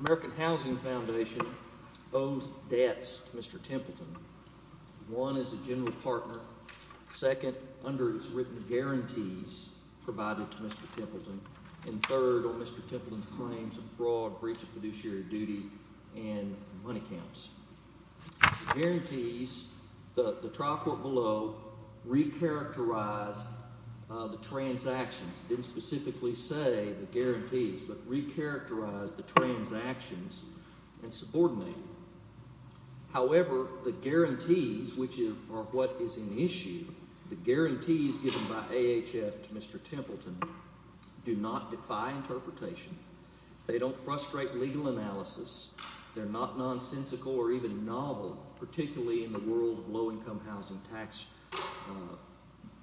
American Housing Foundation owes debts to Mr. Templeton. One, as a general partner. Second, under its written guarantees provided to Mr. Templeton. And third, on Mr. Templeton's claims of fraud, breach of fiduciary duty, and money counts. The guarantees, the trial court below re-characterized the transactions, didn't specifically say the guarantees, but re-characterized the transactions and subordinated them. However, the guarantees, which are what is in issue, the guarantees given by AHF to Mr. Templeton do not defy interpretation. They don't frustrate legal analysis. They're not nonsensical or even novel, particularly in the world of low-income housing tax,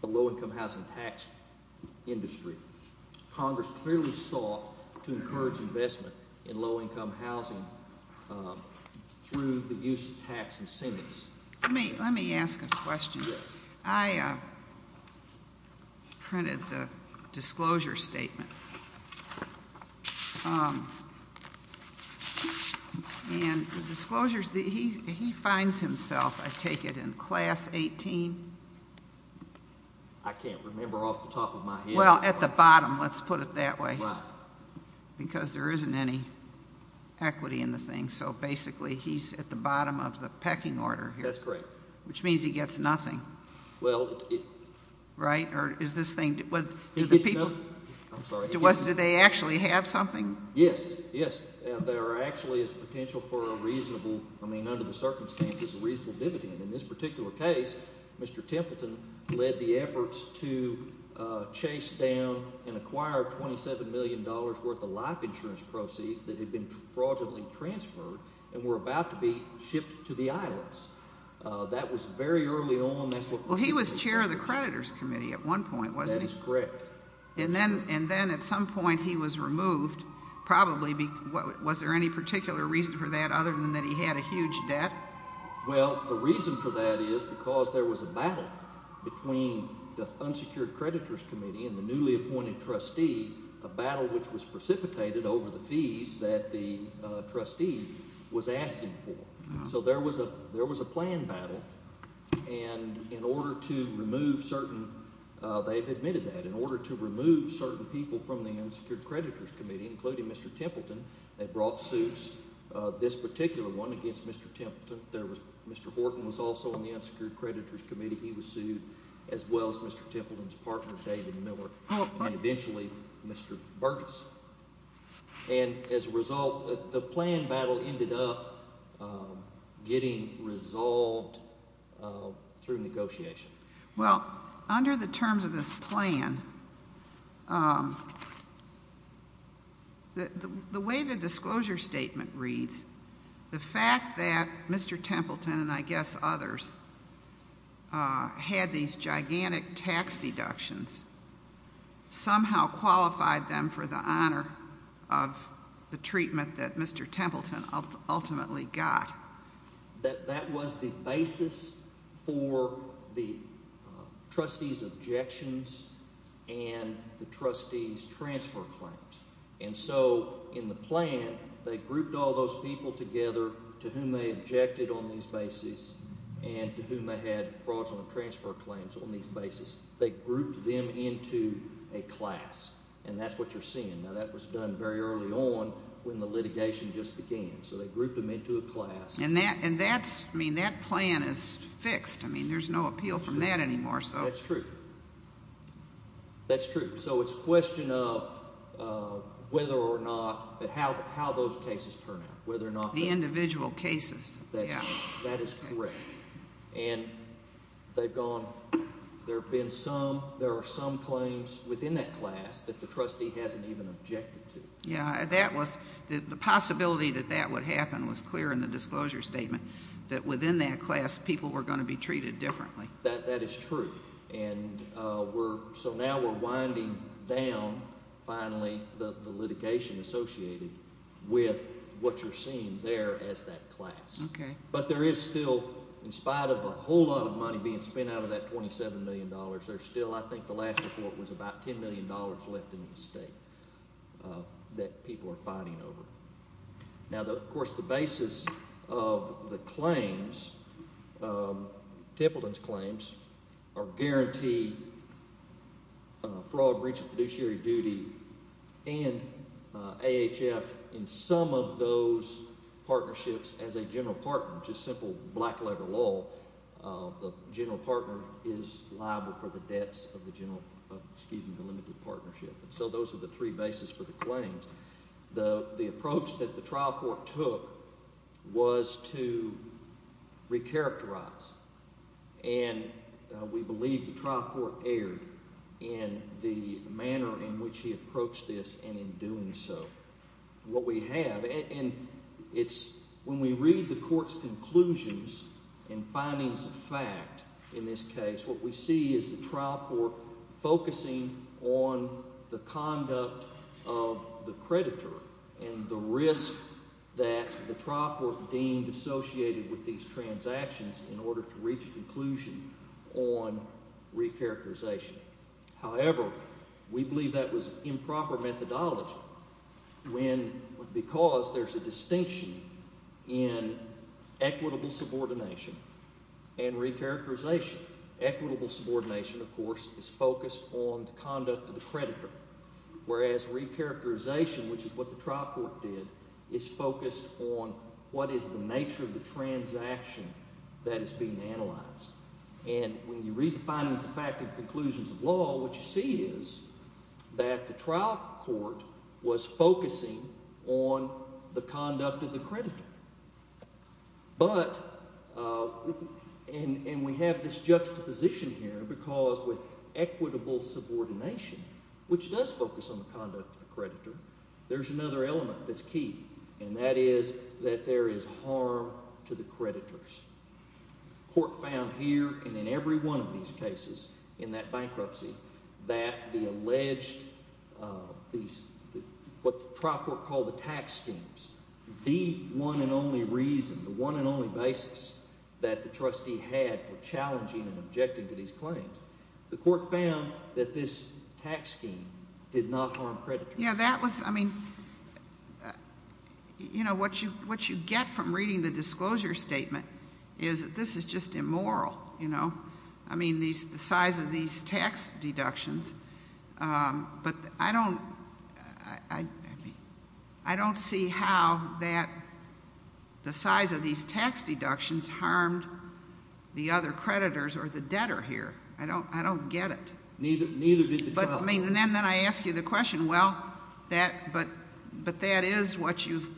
the low-income housing tax industry. Congress clearly sought to encourage investment in low-income housing through the use of tax incentives. Let me ask a question. I printed the disclosure statement. And the disclosures, he finds himself, I take it, in class 18? I can't remember off the top of my head. Well, at the bottom, let's put it that way. Right. Because there isn't any equity in the thing. So basically, he's at the bottom of the pecking order here. That's correct. Which means he gets nothing. Well, it... Right? Or is this thing... He gets nothing. I'm sorry. Do they actually have something? Yes. Yes. There actually is potential for a reasonable, I mean, under the circumstances, a reasonable dividend. In this particular case, Mr. Templeton led the efforts to chase down and acquire $27 million worth of life insurance proceeds that had been fraudulently transferred and were about to be shipped to the islands. That was very early on. That's what... Well, he was chair of the creditors' committee at one point, wasn't he? That is correct. And then at some point, he was removed probably because... Was there any particular reason for that other than that he had a huge debt? Well, the reason for that is because there was a battle between the unsecured creditors' committee and the newly appointed trustee, a battle which was precipitated over the fees that the trustee was asking for. So there was a planned battle. And in order to remove certain... They've admitted that. In order to remove certain people from the unsecured creditors' committee, including Mr. Templeton, they brought suits, this particular one, against Mr. Templeton. There was... Mr. Horton was also on the unsecured creditors' committee. He was sued, as well as Mr. Templeton's partner, David Miller, and eventually Mr. Burgess. And as a result, the planned battle ended up getting resolved through negotiation. Well, under the terms of this plan, the way the disclosure statement reads, the fact that Mr. Templeton and I guess others had these gigantic tax deductions somehow qualified them for the honor of the treatment that Mr. Templeton ultimately got. That that was the basis for the trustees' objections and the trustees' transfer claims. And so in the plan, they grouped all those people together to whom they objected on these bases and to whom they had fraudulent transfer claims on these bases. They grouped them into a class. And that's what you're seeing. Now, that was done very early on when the litigation just began. So they grouped them into a class. And that's, I mean, that plan is fixed. I mean, there's no appeal from that anymore. That's true. That's true. So it's a question of whether or not, how those cases turn out. Whether or not... The individual cases. That's right. That is correct. And they've gone, there have been some, there are some Yeah, that was, the possibility that that would happen was clear in the disclosure statement that within that class, people were going to be treated differently. That is true. And we're, so now we're winding down, finally, the litigation associated with what you're seeing there as that class. Okay. But there is still, in spite of a whole lot of money being spent out of that $27 million, there's still, I think, the last report was about $10 million left in the state that people are fighting over. Now, of course, the basis of the claims, Templeton's claims, are guaranteed fraud, breach of fiduciary duty, and AHF in some of those partnerships as a general partner, just simple black-letter law, the general partner is liable for the debts of the general, excuse me, the limited partnership. So those are the three bases for the claims. The approach that the trial court took was to re-characterize, and we believe the trial court erred in the manner in which he approached this and in doing so. What we have, and it's, when we read the court's conclusions and findings of fact in this case, what we see is the trial court focusing on the conduct of the creditor and the risk that the trial court deemed associated with these transactions in order to reach a conclusion on re-characterization. However, we believe that was improper methodology when, because there's a distinction in equitable subordination and re-characterization. Equitable subordination, of course, is focused on the conduct of the creditor, whereas re-characterization, which is what the trial court did, is focused on what is the nature of the transaction that is being analyzed. And when you read the findings of fact and conclusions of law, what you see is that the trial court was focusing on the conduct of the creditor. But, and we have this juxtaposition here because with equitable subordination, which does focus on the conduct of the creditor, there's another element that's key, and that is that there is harm to the creditors. The court found here and in every one of these cases, in that bankruptcy, that the alleged, what the trial court called the tax schemes, the one and only reason, the one and only basis that the trustee had for challenging and objecting to these claims, the court found that this tax scheme did not harm creditors. Yeah, that was, I mean, you know, what you get from reading the disclosure statement is that this is just immoral, you know. I mean, the size of these tax deductions, but I don't see how that, the size of these tax deductions harmed the other creditors or the debtor here. I don't get it. Neither did the trial court. Well, I mean, and then I ask you the question, well, but that is what you've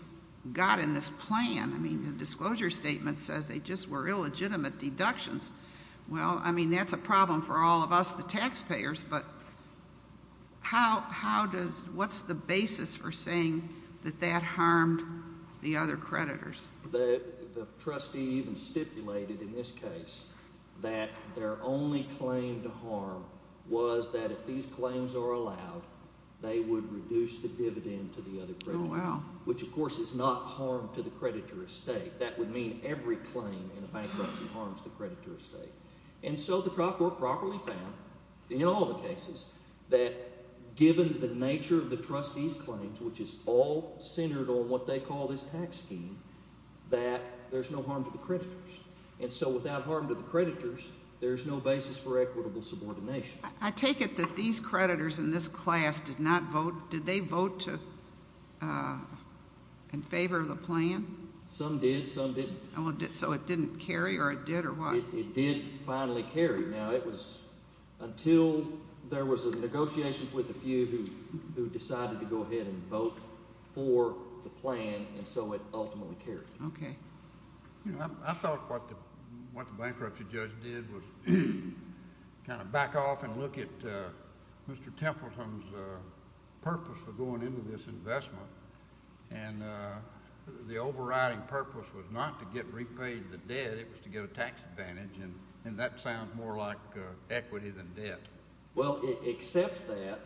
got in this plan. I mean, the disclosure statement says they just were illegitimate deductions. Well, I mean, that's a problem for all of us, the taxpayers, but how does, what's the basis for saying that that harmed the other creditors? The trustee even stipulated in this case that their only claim to harm was that if these claims are allowed, they would reduce the dividend to the other creditors, which, of course, is not harm to the creditor estate. That would mean every claim in a bankruptcy harms the creditor estate. And so the trial court properly found in all the cases that given the nature of the trustees' claims, which is all centered on what they call this tax scheme, that there's no harm to the creditors. And so without harm to the creditors, there's no basis for equitable subordination. I take it that these creditors in this class did not vote. Did they vote in favor of the plan? Some did. Some didn't. So it didn't carry, or it did, or what? It did finally carry. Now, it was until there was a negotiation with a few who decided to go ahead and vote for the plan, and so it ultimately carried. Okay. I thought what the bankruptcy judge did was kind of back off and look at Mr. Templeton's purpose for going into this investment, and the overriding purpose was not to get repaid the debt. It was to get a tax advantage, and that sounds more like equity than debt. Well, except that,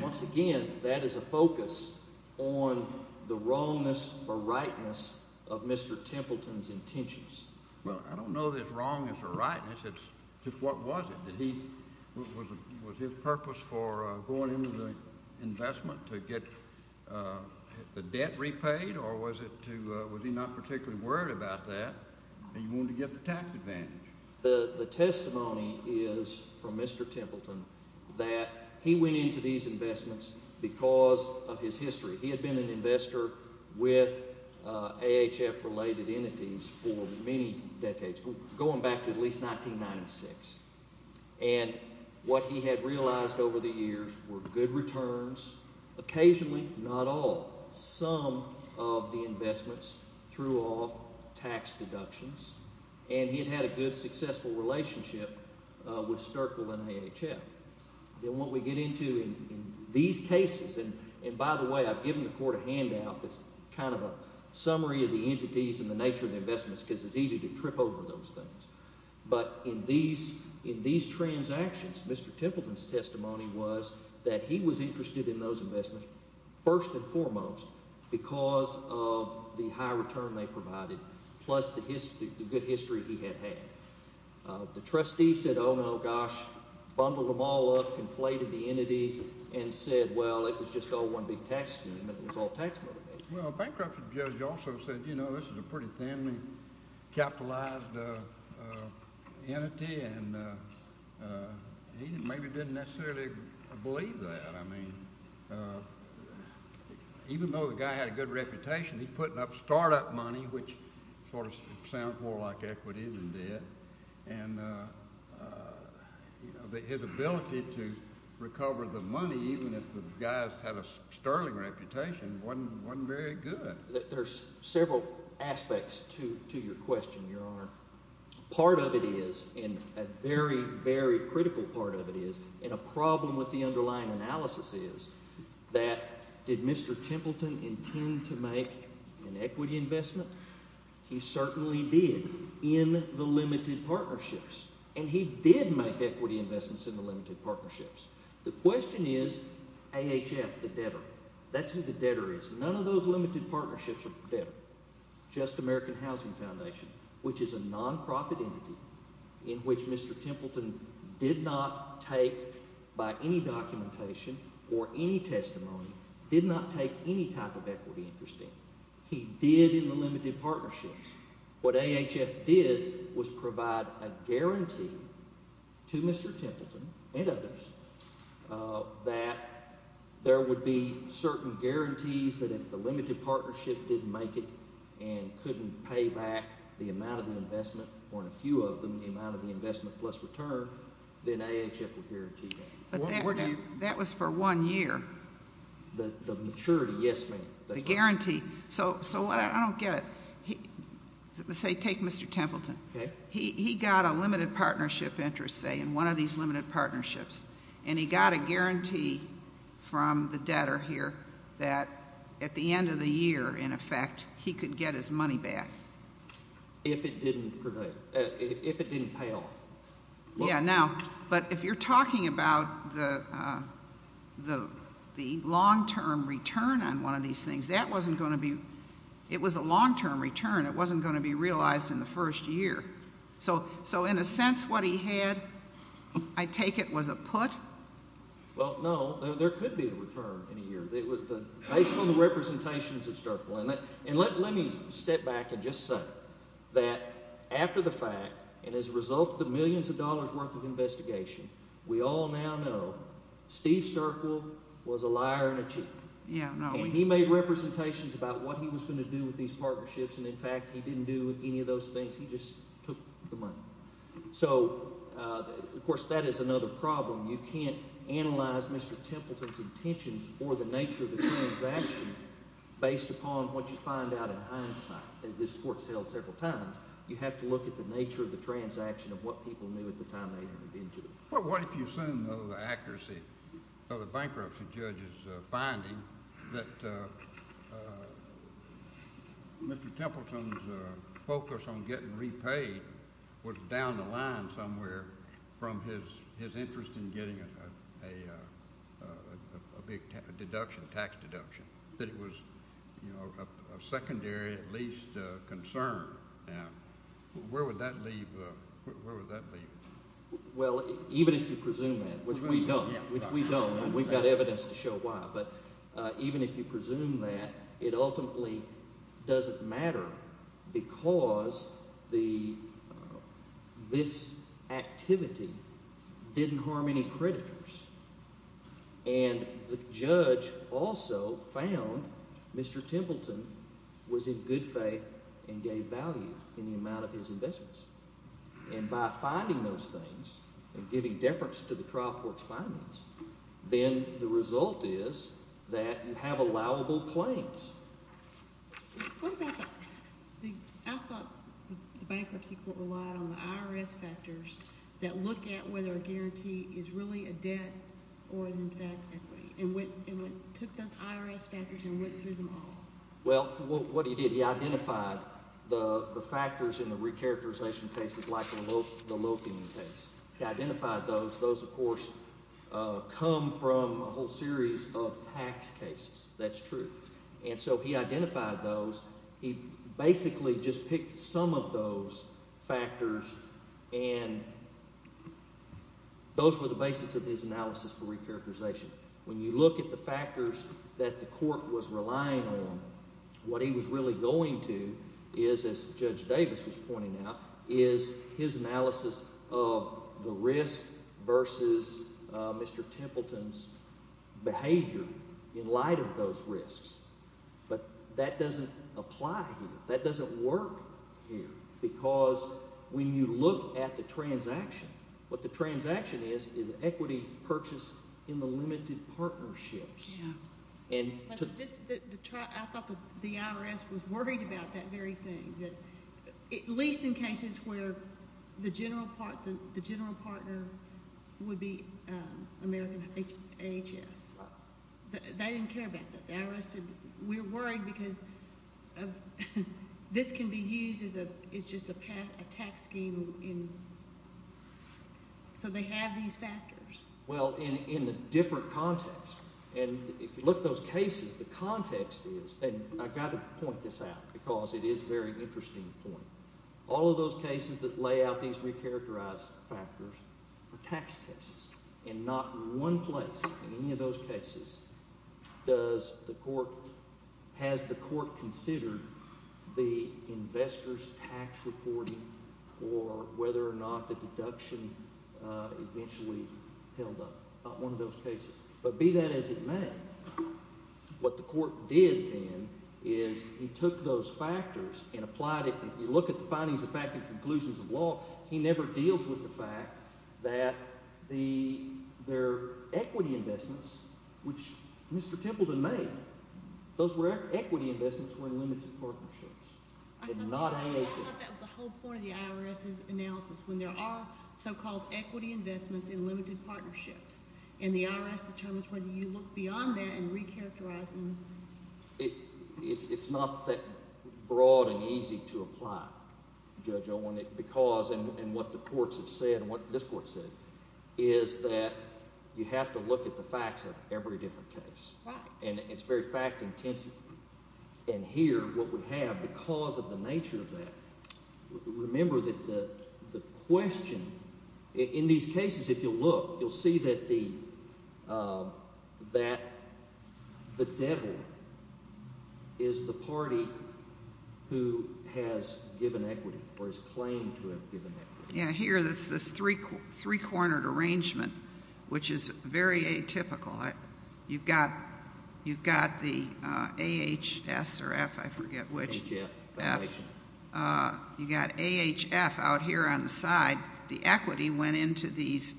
once again, that is a focus on the wrongness or rightness of Mr. Templeton's intentions. Well, I don't know that it's wrongness or rightness. It's just what was it? Was his purpose for going into the investment to get the debt repaid, or was he not particularly worried about that? He wanted to get the tax advantage. The testimony is from Mr. Templeton that he went into these investments because of his history. He had been an investor with AHF-related entities for many decades, going back to at least 1996, and what he had realized over the years were good returns, occasionally, not all. Some of the investments threw off tax deductions, and he had had a good, successful relationship with Sterkle and AHF. Then what we get into in these cases, and by the way, I've given the court a handout that's kind of a summary of the entities and the nature of the investments because it's easy to trip over those things. But in these transactions, Mr. Templeton's testimony was that he was interested in those investments first and foremost because of the high return they provided plus the good history he had had. The trustee said, oh, no, gosh, bundled them all up, conflated the entities, and said, well, it was just all one big tax scheme. It was all tax motivated. Well, a bankruptcy judge also said, you know, this is a pretty thinly capitalized entity, and he maybe didn't necessarily believe that. I mean, even though the guy had a good reputation, he put up startup money, which sort of sounds more like equity than debt, and his ability to recover the money, even if the guy had a sterling reputation, wasn't very good. There's several aspects to your question, Your Honor. Part of it is, and a very, very critical part of it is, and a problem with the underlying analysis is that did Mr. Templeton intend to make an equity investment? He certainly did in the limited partnerships, and he did make equity investments in the limited partnerships. The question is AHF, the debtor. That's who the debtor is. None of those limited partnerships are debtor, just American Housing Foundation, which is a nonprofit entity in which Mr. Templeton did not take, by any documentation or any testimony, did not take any type of equity interest in. He did in the limited partnerships. What AHF did was provide a guarantee to Mr. Templeton and others that there would be certain guarantees that if the limited partnership didn't make it and couldn't pay back the amount of the investment, or in a few of them, the amount of the investment plus return, then AHF would guarantee that. But that was for one year. The maturity, yes, ma'am. The guarantee. So what I don't get, say take Mr. Templeton. Okay. He got a limited partnership interest, say, in one of these limited partnerships, and he got a guarantee from the debtor here that at the end of the year, in effect, he could get his money back. If it didn't pay off. Yeah, now, but if you're talking about the long-term return on one of these things, that wasn't going to be ‑‑ it was a long-term return. It wasn't going to be realized in the first year. So in a sense, what he had, I take it, was a put? Well, no. There could be a return in a year. Based on the representations that start playing. And let me step back and just say that after the fact, and as a result of the millions of dollars worth of investigation, we all now know Steve Sterkwill was a liar and a cheat. And he made representations about what he was going to do with these partnerships, and, in fact, he didn't do any of those things. He just took the money. So, of course, that is another problem. You can't analyze Mr. Templeton's intentions or the nature of the transaction based upon what you find out in hindsight. As this court has held several times, you have to look at the nature of the transaction of what people knew at the time they entered into it. Well, what if you assume, though, the accuracy of the bankruptcy judge's finding that Mr. Templeton's focus on getting repaid was down the line somewhere from his interest in getting a big deduction, tax deduction, that it was a secondary, at least, concern? Now, where would that leave us? Well, even if you presume that, which we don't, and we've got evidence to show why, but even if you presume that, it ultimately doesn't matter because the – this activity didn't harm any creditors. And the judge also found Mr. Templeton was in good faith and gave value in the amount of his investments. And by finding those things and giving deference to the trial court's findings, then the result is that you have allowable claims. What about the – I thought the bankruptcy court relied on the IRS factors that look at whether a guarantee is really a debt or is in fact equity and went – took those IRS factors and went through them all. Well, what he did, he identified the factors in the recharacterization cases like the loafing case. He identified those. Those, of course, come from a whole series of tax cases. That's true. And so he identified those. He basically just picked some of those factors, and those were the basis of his analysis for recharacterization. When you look at the factors that the court was relying on, what he was really going to is, as Judge Davis was pointing out, is his analysis of the risk versus Mr. Templeton's behavior in light of those risks. But that doesn't apply here. That doesn't work here because when you look at the transaction, what the transaction is is an equity purchase in the limited partnerships. I thought the IRS was worried about that very thing, at least in cases where the general partner would be American AHS. They didn't care about that. The IRS said we're worried because this can be used as a – it's just a tax scheme, and so they have these factors. Well, in a different context, and if you look at those cases, the context is – and I've got to point this out because it is a very interesting point. All of those cases that lay out these recharacterized factors are tax cases, and not one place in any of those cases does the court – has the court considered the investor's tax reporting or whether or not the deduction eventually held up. But be that as it may, what the court did then is he took those factors and applied it. If you look at the findings of fact and conclusions of law, he never deals with the fact that their equity investments, which Mr. Templeton made, those equity investments were in limited partnerships and not AHS. I thought that was the whole point of the IRS's analysis, when there are so-called equity investments in limited partnerships, and the IRS determines whether you look beyond that and recharacterize them. It's not that broad and easy to apply, Judge Owen, because – and what the courts have said and what this court said is that you have to look at the facts of every different case. And it's very fact-intensive. And here what we have, because of the nature of that, remember that the question – in these cases, if you'll look, you'll see that the debtor is the party who has given equity or has claimed to have given equity. Yeah, here there's this three-cornered arrangement, which is very atypical. You've got the AHS or F, I forget which. HF. F. You've got AHF out here on the side. The equity went into these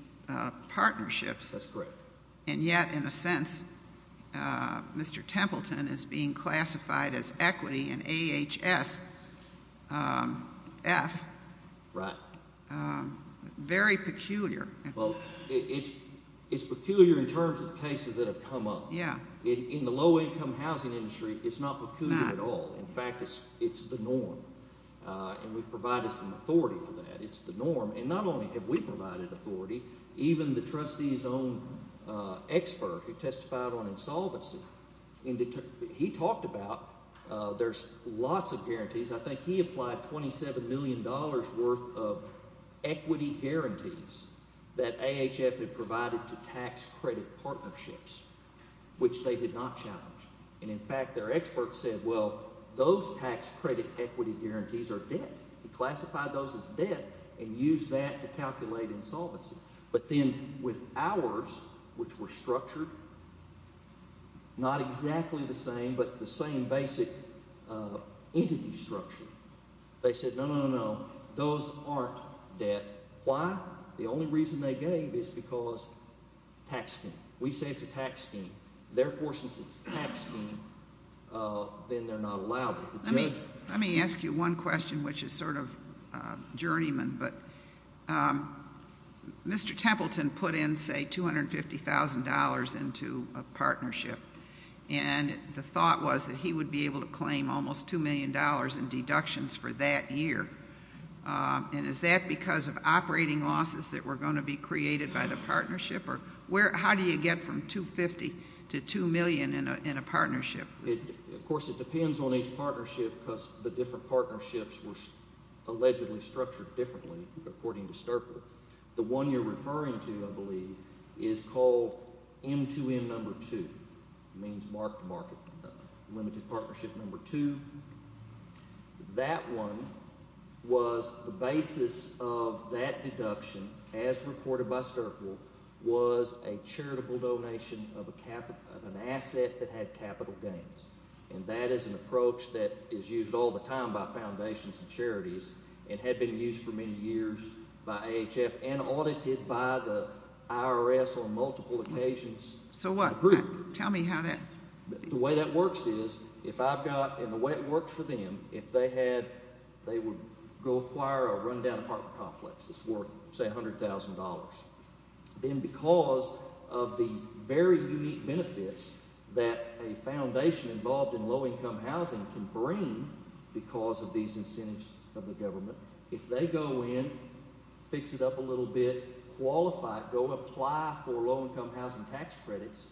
partnerships. That's correct. And yet, in a sense, Mr. Templeton is being classified as equity in AHS F. Right. Very peculiar. Well, it's peculiar in terms of cases that have come up. Yeah. In the low-income housing industry, it's not peculiar at all. It's not. In fact, it's the norm. And we've provided some authority for that. It's the norm. And not only have we provided authority, even the trustee's own expert who testified on insolvency, he talked about there's lots of guarantees. I think he applied $27 million worth of equity guarantees that AHF had provided to tax-credit partnerships, which they did not challenge. And, in fact, their experts said, well, those tax-credit equity guarantees are debt. He classified those as debt and used that to calculate insolvency. But then with ours, which were structured, not exactly the same but the same basic entity structure, they said, no, no, no, no, those aren't debt. Why? The only reason they gave is because tax scheme. We say it's a tax scheme. Therefore, since it's a tax scheme, then they're not allowed to judge it. Let me ask you one question, which is sort of journeyman. But Mr. Templeton put in, say, $250,000 into a partnership, and the thought was that he would be able to claim almost $2 million in deductions for that year. And is that because of operating losses that were going to be created by the partnership? Or how do you get from $250,000 to $2 million in a partnership? Of course, it depends on each partnership because the different partnerships were allegedly structured differently, according to Sterple. The one you're referring to, I believe, is called M2M No. 2. It means marked market, limited partnership No. 2. That one was the basis of that deduction, as reported by Sterple, was a charitable donation of an asset that had capital gains. And that is an approach that is used all the time by foundations and charities and had been used for many years by AHF and audited by the IRS on multiple occasions. So what? Tell me how that works. The way that works is if I've got—and the way it worked for them, if they had—they would go acquire a run-down apartment complex that's worth, say, $100,000. Then because of the very unique benefits that a foundation involved in low-income housing can bring because of these incentives of the government, if they go in, fix it up a little bit, qualify it. If they go apply for low-income housing tax credits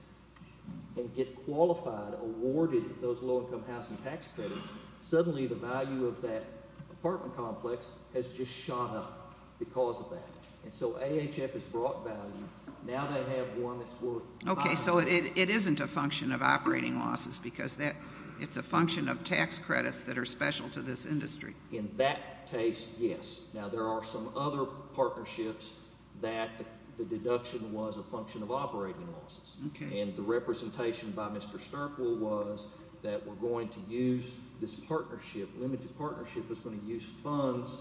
and get qualified, awarded those low-income housing tax credits, suddenly the value of that apartment complex has just shone up because of that. And so AHF has brought value. Now they have one that's worth— Okay, so it isn't a function of operating losses because that—it's a function of tax credits that are special to this industry. In that case, yes. Now there are some other partnerships that the deduction was a function of operating losses. Okay. And the representation by Mr. Sterkle was that we're going to use this partnership—limited partnership is going to use funds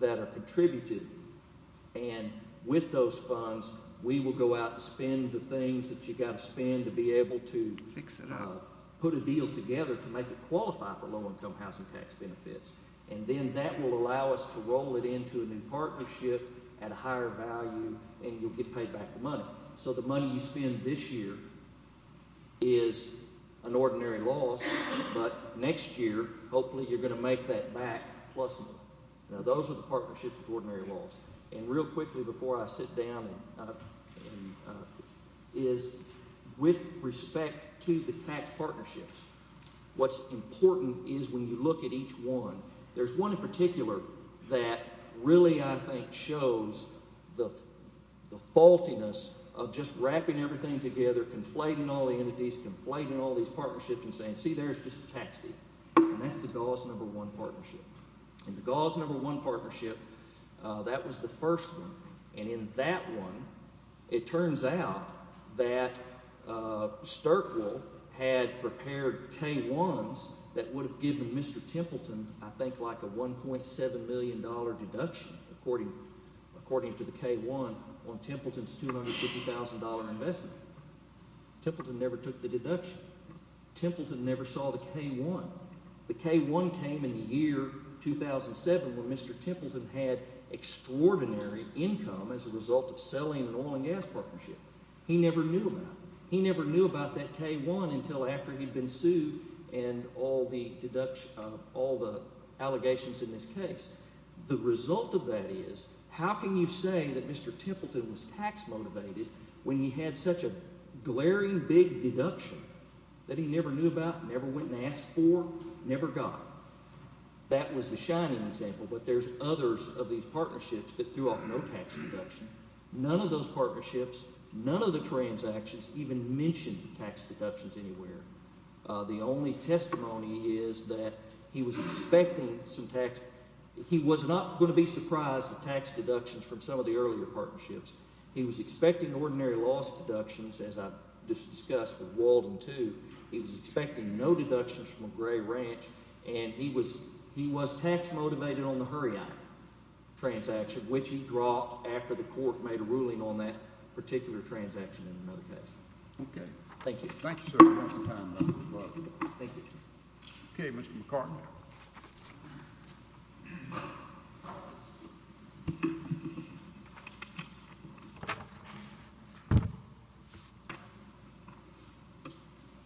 that are contributed. And with those funds, we will go out and spend the things that you've got to spend to be able to— Fix it up. Put a deal together to make it qualify for low-income housing tax benefits. And then that will allow us to roll it into a new partnership at a higher value, and you'll get paid back the money. So the money you spend this year is an ordinary loss, but next year hopefully you're going to make that back plus money. Now those are the partnerships with ordinary loss. And real quickly before I sit down and—is with respect to the tax partnerships, what's important is when you look at each one, there's one in particular that really I think shows the faultiness of just wrapping everything together, conflating all the entities, conflating all these partnerships and saying, see, there's just a tax deed. And that's the Gauss Number One Partnership. And the Gauss Number One Partnership, that was the first one. And in that one, it turns out that Sturteville had prepared K-1s that would have given Mr. Templeton I think like a $1.7 million deduction, according to the K-1, on Templeton's $250,000 investment. Templeton never took the deduction. Templeton never saw the K-1. The K-1 came in the year 2007 when Mr. Templeton had extraordinary income as a result of selling an oil and gas partnership. He never knew about it. He never knew about that K-1 until after he'd been sued and all the deductions—all the allegations in this case. The result of that is how can you say that Mr. Templeton was tax motivated when he had such a glaring big deduction that he never knew about, never went and asked for, never got? That was the shining example. But there's others of these partnerships that threw off no tax deduction. None of those partnerships, none of the transactions even mentioned tax deductions anywhere. The only testimony is that he was expecting some tax—he was not going to be surprised at tax deductions from some of the earlier partnerships. He was expecting ordinary loss deductions, as I discussed with Walden, too. He was expecting no deductions from Gray Ranch, and he was tax motivated on the Hurriak transaction, which he dropped after the court made a ruling on that particular transaction in another case. Okay. Thank you. Thank you, sir. Thank you. Okay, Mr. McCartin.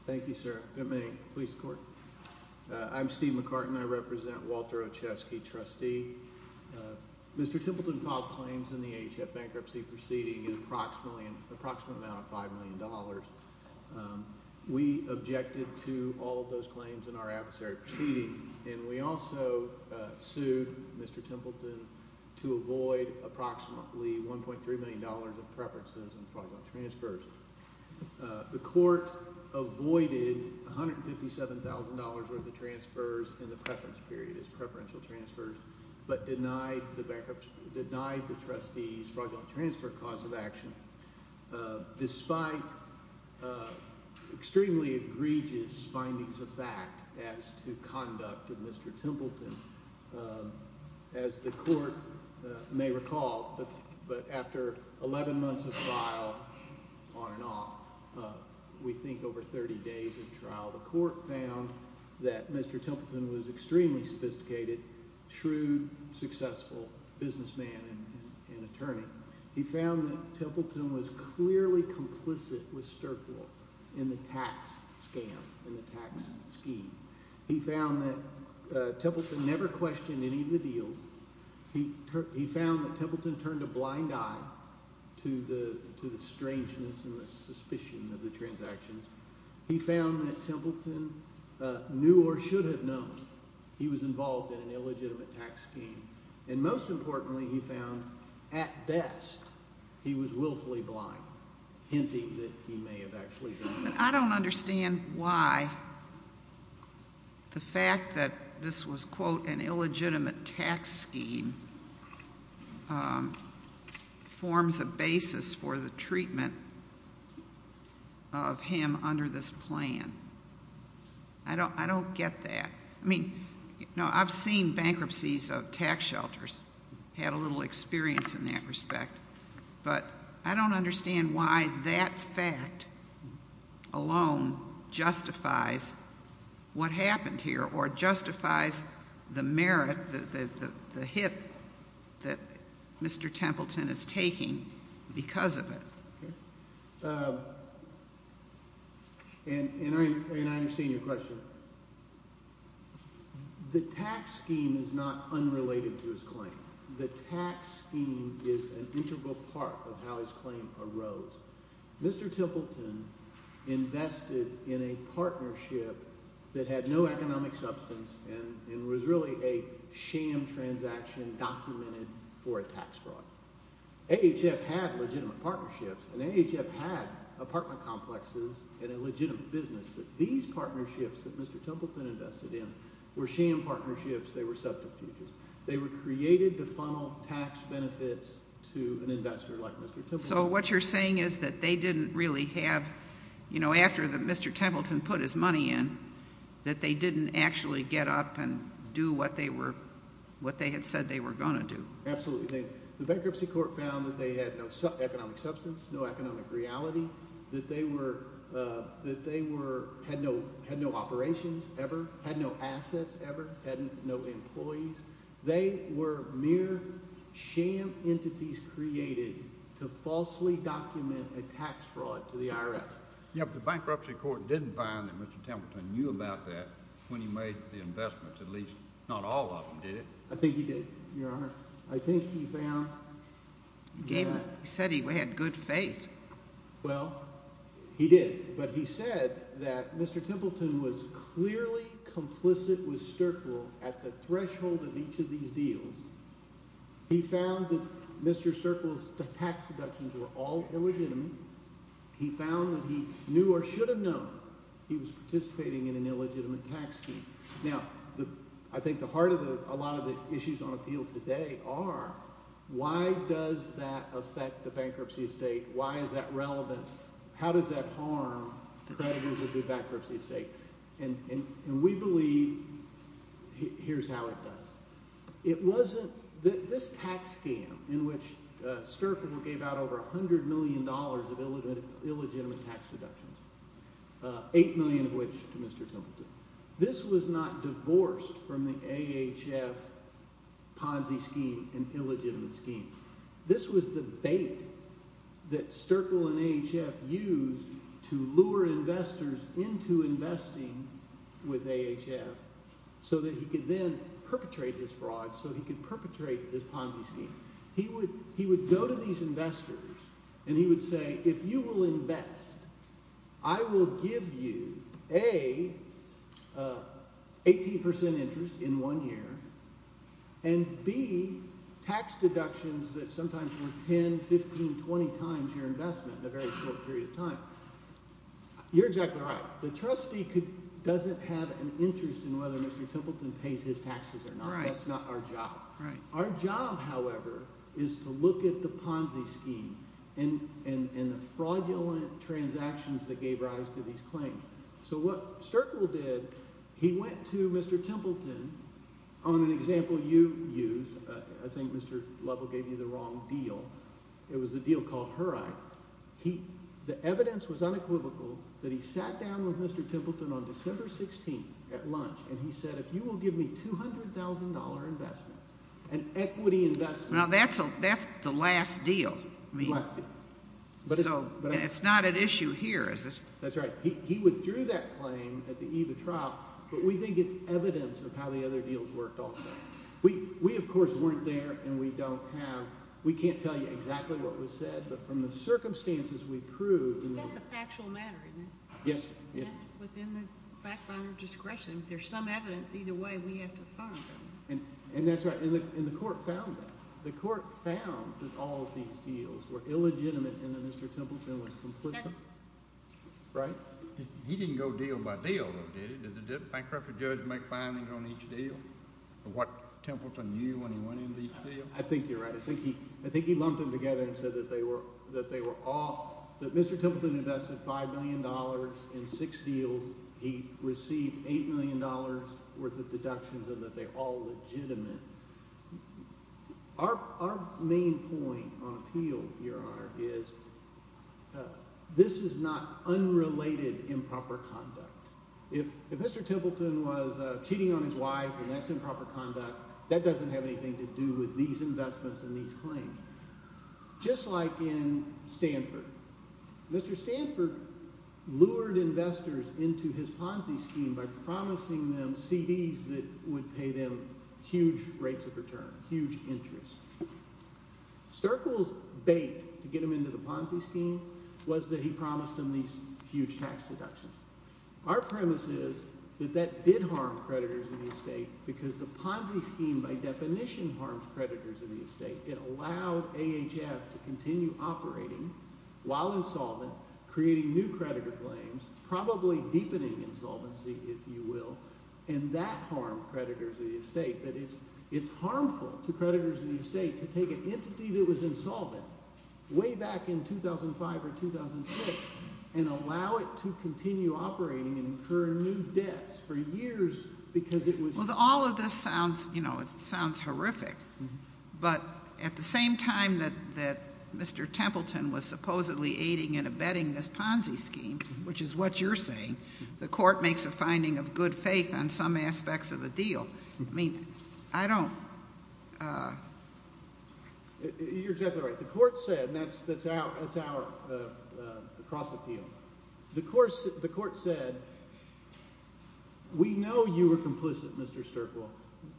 Thank you, sir. Good morning. Police and court. I'm Steve McCartin. I represent Walter Ochesky, trustee. Mr. Templeton filed claims in the HF bankruptcy proceeding in approximately—an approximate amount of $5 million. We objected to all of those claims in our adversary proceeding, and we also sued Mr. Templeton to avoid approximately $1.3 million of preferences and fraudulent transfers. The court avoided $157,000 worth of transfers in the preference period, as preferential transfers, but denied the trustee's fraudulent transfer cause of action despite extremely egregious findings of fact as to conduct of Mr. Templeton. As the court may recall, but after 11 months of trial on and off, we think over 30 days of trial, the court found that Mr. Templeton was an extremely sophisticated, shrewd, successful businessman and attorney. He found that Templeton was clearly complicit with Sterckel in the tax scam, in the tax scheme. He found that Templeton never questioned any of the deals. He found that Templeton turned a blind eye to the strangeness and the suspicion of the transactions. He found that Templeton knew or should have known he was involved in an illegitimate tax scheme. And most importantly, he found, at best, he was willfully blind, hinting that he may have actually done it. I don't understand why the fact that this was, quote, an illegitimate tax scheme forms a basis for the treatment of him under this plan. I don't get that. I mean, no, I've seen bankruptcies of tax shelters, had a little experience in that respect. But I don't understand why that fact alone justifies what happened here or justifies the merit, the hit that Mr. Templeton is taking because of it. And I understand your question. The tax scheme is not unrelated to his claim. The tax scheme is an integral part of how his claim arose. Mr. Templeton invested in a partnership that had no economic substance and was really a sham transaction documented for a tax fraud. AHF had legitimate partnerships, and AHF had apartment complexes and a legitimate business. But these partnerships that Mr. Templeton invested in were sham partnerships. They were subterfuges. They were created to funnel tax benefits to an investor like Mr. Templeton. So what you're saying is that they didn't really have, you know, after Mr. Templeton put his money in, that they didn't actually get up and do what they had said they were going to do. Absolutely. The bankruptcy court found that they had no economic substance, no economic reality, that they had no operations ever, had no assets ever, had no employees. They were mere sham entities created to falsely document a tax fraud to the IRS. Yes, but the bankruptcy court didn't find that Mr. Templeton knew about that when he made the investments. At least not all of them did. I think he did, Your Honor. I think he found that— He said he had good faith. Well, he did. But he said that Mr. Templeton was clearly complicit with Sterkle at the threshold of each of these deals. He found that Mr. Sterkle's tax deductions were all illegitimate. He found that he knew or should have known he was participating in an illegitimate tax scheme. Now, I think the heart of a lot of the issues on appeal today are why does that affect the bankruptcy estate? Why is that relevant? How does that harm creditors of the bankruptcy estate? And we believe here's how it does. It wasn't—this tax scam in which Sterkle gave out over $100 million of illegitimate tax deductions, $8 million of which to Mr. Templeton. This was not divorced from the AHF Ponzi scheme, an illegitimate scheme. This was the bait that Sterkle and AHF used to lure investors into investing with AHF so that he could then perpetrate this fraud, so he could perpetrate this Ponzi scheme. He would go to these investors, and he would say, if you will invest, I will give you A, 18 percent interest in one year, and B, tax deductions that sometimes were 10, 15, 20 times your investment in a very short period of time. You're exactly right. The trustee doesn't have an interest in whether Mr. Templeton pays his taxes or not. That's not our job. Our job, however, is to look at the Ponzi scheme and the fraudulent transactions that gave rise to these claims. So what Sterkle did, he went to Mr. Templeton on an example you used. I think Mr. Lovell gave you the wrong deal. It was a deal called HER Act. The evidence was unequivocal that he sat down with Mr. Templeton on December 16th at lunch, and he said, if you will give me $200,000 investment, an equity investment. Now, that's the last deal. The last deal. And it's not at issue here, is it? That's right. He withdrew that claim at the eve of trial, but we think it's evidence of how the other deals worked also. We, of course, weren't there, and we don't have – we can't tell you exactly what was said, but from the circumstances we proved – That's a factual matter, isn't it? Yes. Within the backbinder discretion. If there's some evidence, either way we have to find them. And that's right. And the court found that. The court found that all of these deals were illegitimate and that Mr. Templeton was complicit. Right? He didn't go deal by deal, though, did he? Did the bankruptcy judge make findings on each deal? What Templeton knew when he went into each deal? I think you're right. I think he lumped them together and said that they were all – that Mr. Templeton invested $5 million in six deals. He received $8 million worth of deductions and that they're all legitimate. Our main point on appeal, Your Honor, is this is not unrelated improper conduct. If Mr. Templeton was cheating on his wife and that's improper conduct, that doesn't have anything to do with these investments and these claims. Just like in Stanford. Mr. Stanford lured investors into his Ponzi scheme by promising them CDs that would pay them huge rates of return, huge interest. Sterkle's bait to get him into the Ponzi scheme was that he promised them these huge tax deductions. Our premise is that that did harm creditors in the estate because the Ponzi scheme by definition harms creditors in the estate. It allowed AHF to continue operating while insolvent, creating new creditor claims, probably deepening insolvency, if you will, and that harmed creditors in the estate. That it's harmful to creditors in the estate to take an entity that was insolvent way back in 2005 or 2006 and allow it to continue operating and incur new debts for years because it was – Well, all of this sounds – you know, it sounds horrific. But at the same time that Mr. Templeton was supposedly aiding and abetting this Ponzi scheme, which is what you're saying, the court makes a finding of good faith on some aspects of the deal. I mean, I don't – You're exactly right. The court said – and that's our cross appeal. The court said we know you were complicit, Mr. Sterkle –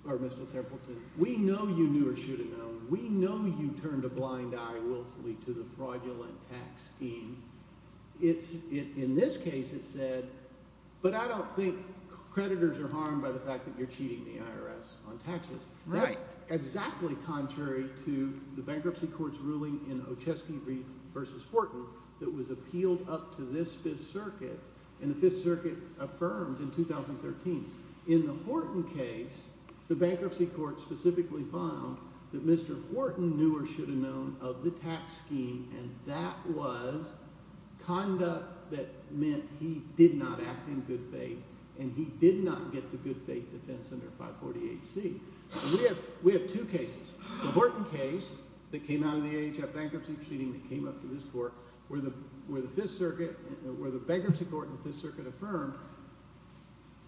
or Mr. Templeton. We know you knew or should have known. We know you turned a blind eye willfully to the fraudulent tax scheme. In this case it said, but I don't think creditors are harmed by the fact that you're cheating the IRS on taxes. That's exactly contrary to the bankruptcy court's ruling in Ochesky v. Horton that was appealed up to this Fifth Circuit, and the Fifth Circuit affirmed in 2013. In the Horton case, the bankruptcy court specifically found that Mr. Horton knew or should have known of the tax scheme, and that was conduct that meant he did not act in good faith and he did not get to good faith defense under 540HC. And we have two cases. The Horton case that came out of the AHF bankruptcy proceeding that came up to this court where the Fifth Circuit – where the bankruptcy court and the Fifth Circuit affirmed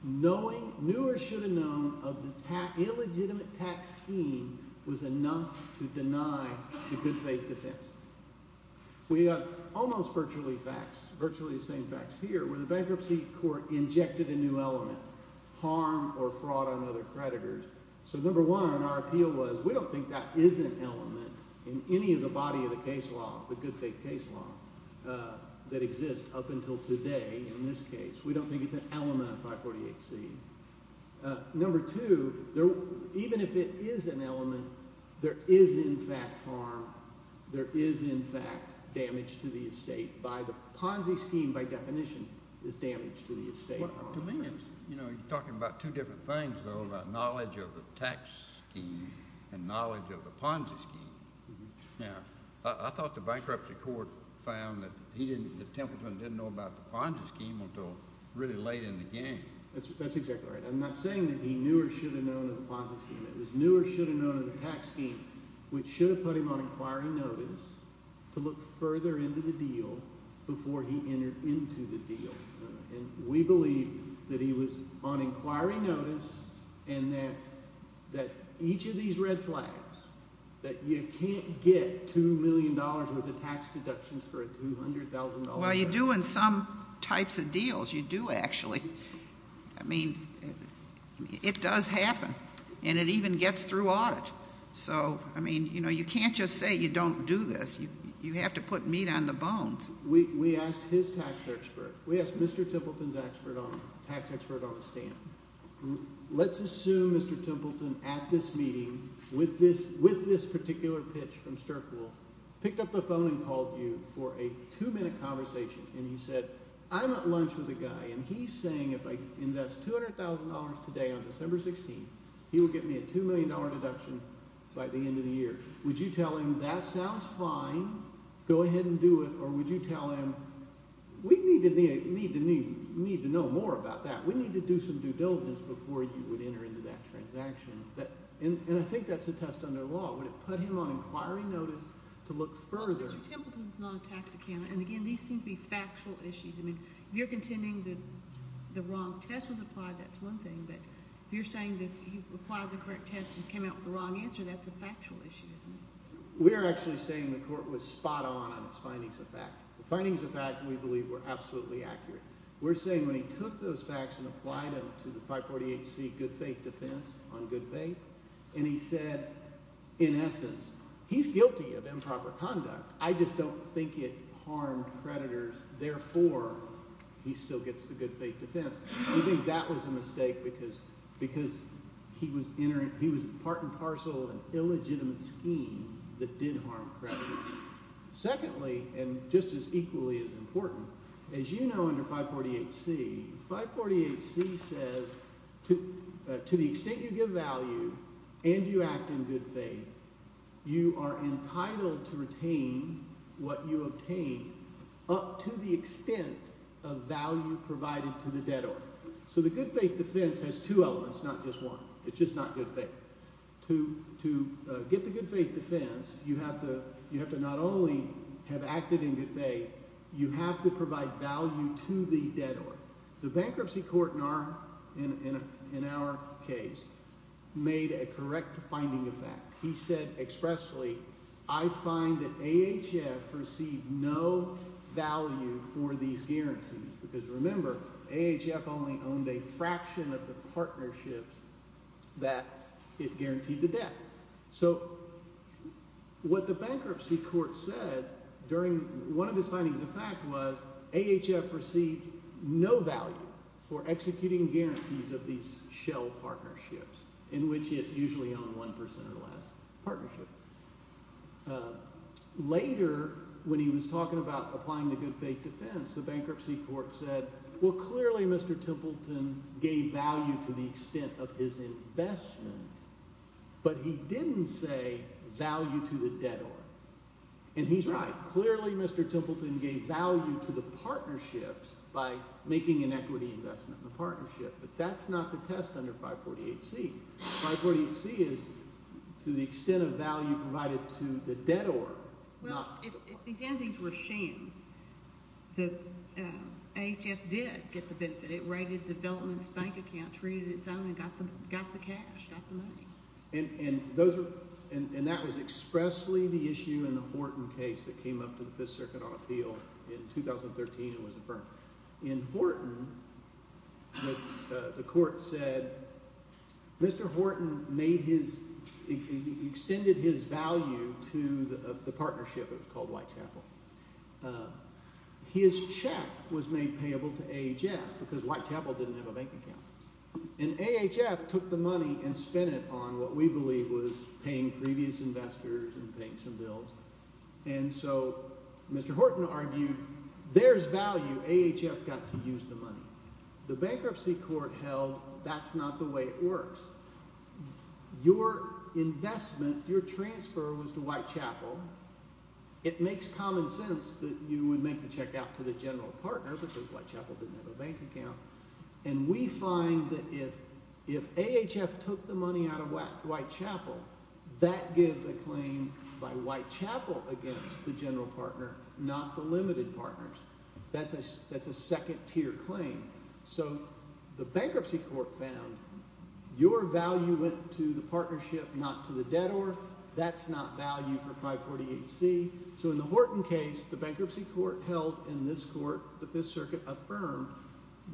knowing – knew or should have known of the illegitimate tax scheme was enough to deny the good faith defense. We have almost virtually facts, virtually the same facts here, where the bankruptcy court injected a new element, harm or fraud on other creditors. So number one, our appeal was we don't think that is an element in any of the body of the case law, the good faith case law, that exists up until today in this case. We don't think it's an element of 540HC. Number two, even if it is an element, there is in fact harm. There is in fact damage to the estate by the Ponzi scheme by definition is damage to the estate. Well, to me it's – you're talking about two different things, though, about knowledge of the tax scheme and knowledge of the Ponzi scheme. Now, I thought the bankruptcy court found that he didn't – that Templeton didn't know about the Ponzi scheme until really late in the game. That's exactly right. I'm not saying that he knew or should have known of the Ponzi scheme. It was knew or should have known of the tax scheme, which should have put him on inquiry notice to look further into the deal before he entered into the deal. And we believe that he was on inquiry notice and that each of these red flags, that you can't get $2 million worth of tax deductions for a $200,000 – Well, you do in some types of deals. You do actually. I mean, it does happen, and it even gets through audit. So, I mean, you can't just say you don't do this. You have to put meat on the bones. We asked his tax expert. We asked Mr. Templeton's tax expert on the stand. Let's assume Mr. Templeton, at this meeting, with this particular pitch from Sterkwolf, picked up the phone and called you for a two-minute conversation, and he said, I'm at lunch with a guy, and he's saying if I invest $200,000 today on December 16th, he will get me a $2 million deduction by the end of the year. Would you tell him that sounds fine, go ahead and do it, or would you tell him we need to know more about that? We need to do some due diligence before you would enter into that transaction, and I think that's a test under law. Would it put him on inquiry notice to look further? Mr. Templeton's not a tax accountant, and again, these seem to be factual issues. I mean, if you're contending that the wrong test was applied, that's one thing, but if you're saying that he applied the correct test and came out with the wrong answer, that's a factual issue, isn't it? We are actually saying the court was spot on on its findings of fact. The findings of fact, we believe, were absolutely accurate. We're saying when he took those facts and applied them to the 548C good faith defense on good faith, and he said, in essence, he's guilty of improper conduct. I just don't think it harmed creditors, therefore he still gets the good faith defense. We think that was a mistake because he was part and parcel of an illegitimate scheme that did harm creditors. Secondly, and just as equally as important, as you know under 548C, 548C says to the extent you give value and you act in good faith, you are entitled to retain what you obtain up to the extent of value provided to the debtor. So the good faith defense has two elements, not just one. It's just not good faith. To get the good faith defense, you have to not only have acted in good faith, you have to provide value to the debtor. The bankruptcy court in our case made a correct finding of fact. He said expressly, I find that AHF received no value for these guarantees because, remember, AHF only owned a fraction of the partnerships that it guaranteed the debt. So what the bankruptcy court said during one of his findings of fact was AHF received no value for executing guarantees of these shell partnerships in which it usually owned 1% of the last partnership. Later, when he was talking about applying the good faith defense, the bankruptcy court said, well, clearly Mr. Templeton gave value to the extent of his investment, but he didn't say value to the debtor. And he's right. Clearly Mr. Templeton gave value to the partnerships by making an equity investment in the partnership. But that's not the test under 548C. 548C is to the extent of value provided to the debtor. Well, if these entities were shamed, AHF did get the benefit. It raided the development's bank account, traded its own and got the cash, got the money. And that was expressly the issue in the Horton case that came up to the Fifth Circuit on appeal in 2013 and was affirmed. In Horton, the court said Mr. Horton made his – extended his value to the partnership that was called Whitechapel. His check was made payable to AHF because Whitechapel didn't have a bank account. And AHF took the money and spent it on what we believe was paying previous investors and paying some bills. And so Mr. Horton argued there's value. AHF got to use the money. The bankruptcy court held that's not the way it works. Your investment, your transfer was to Whitechapel. It makes common sense that you would make the check out to the general partner because Whitechapel didn't have a bank account. And we find that if AHF took the money out of Whitechapel, that gives a claim by Whitechapel against the general partner, not the limited partners. That's a second-tier claim. So the bankruptcy court found your value went to the partnership, not to the debtor. That's not value for 540HC. So in the Horton case, the bankruptcy court held in this court, the Fifth Circuit, affirmed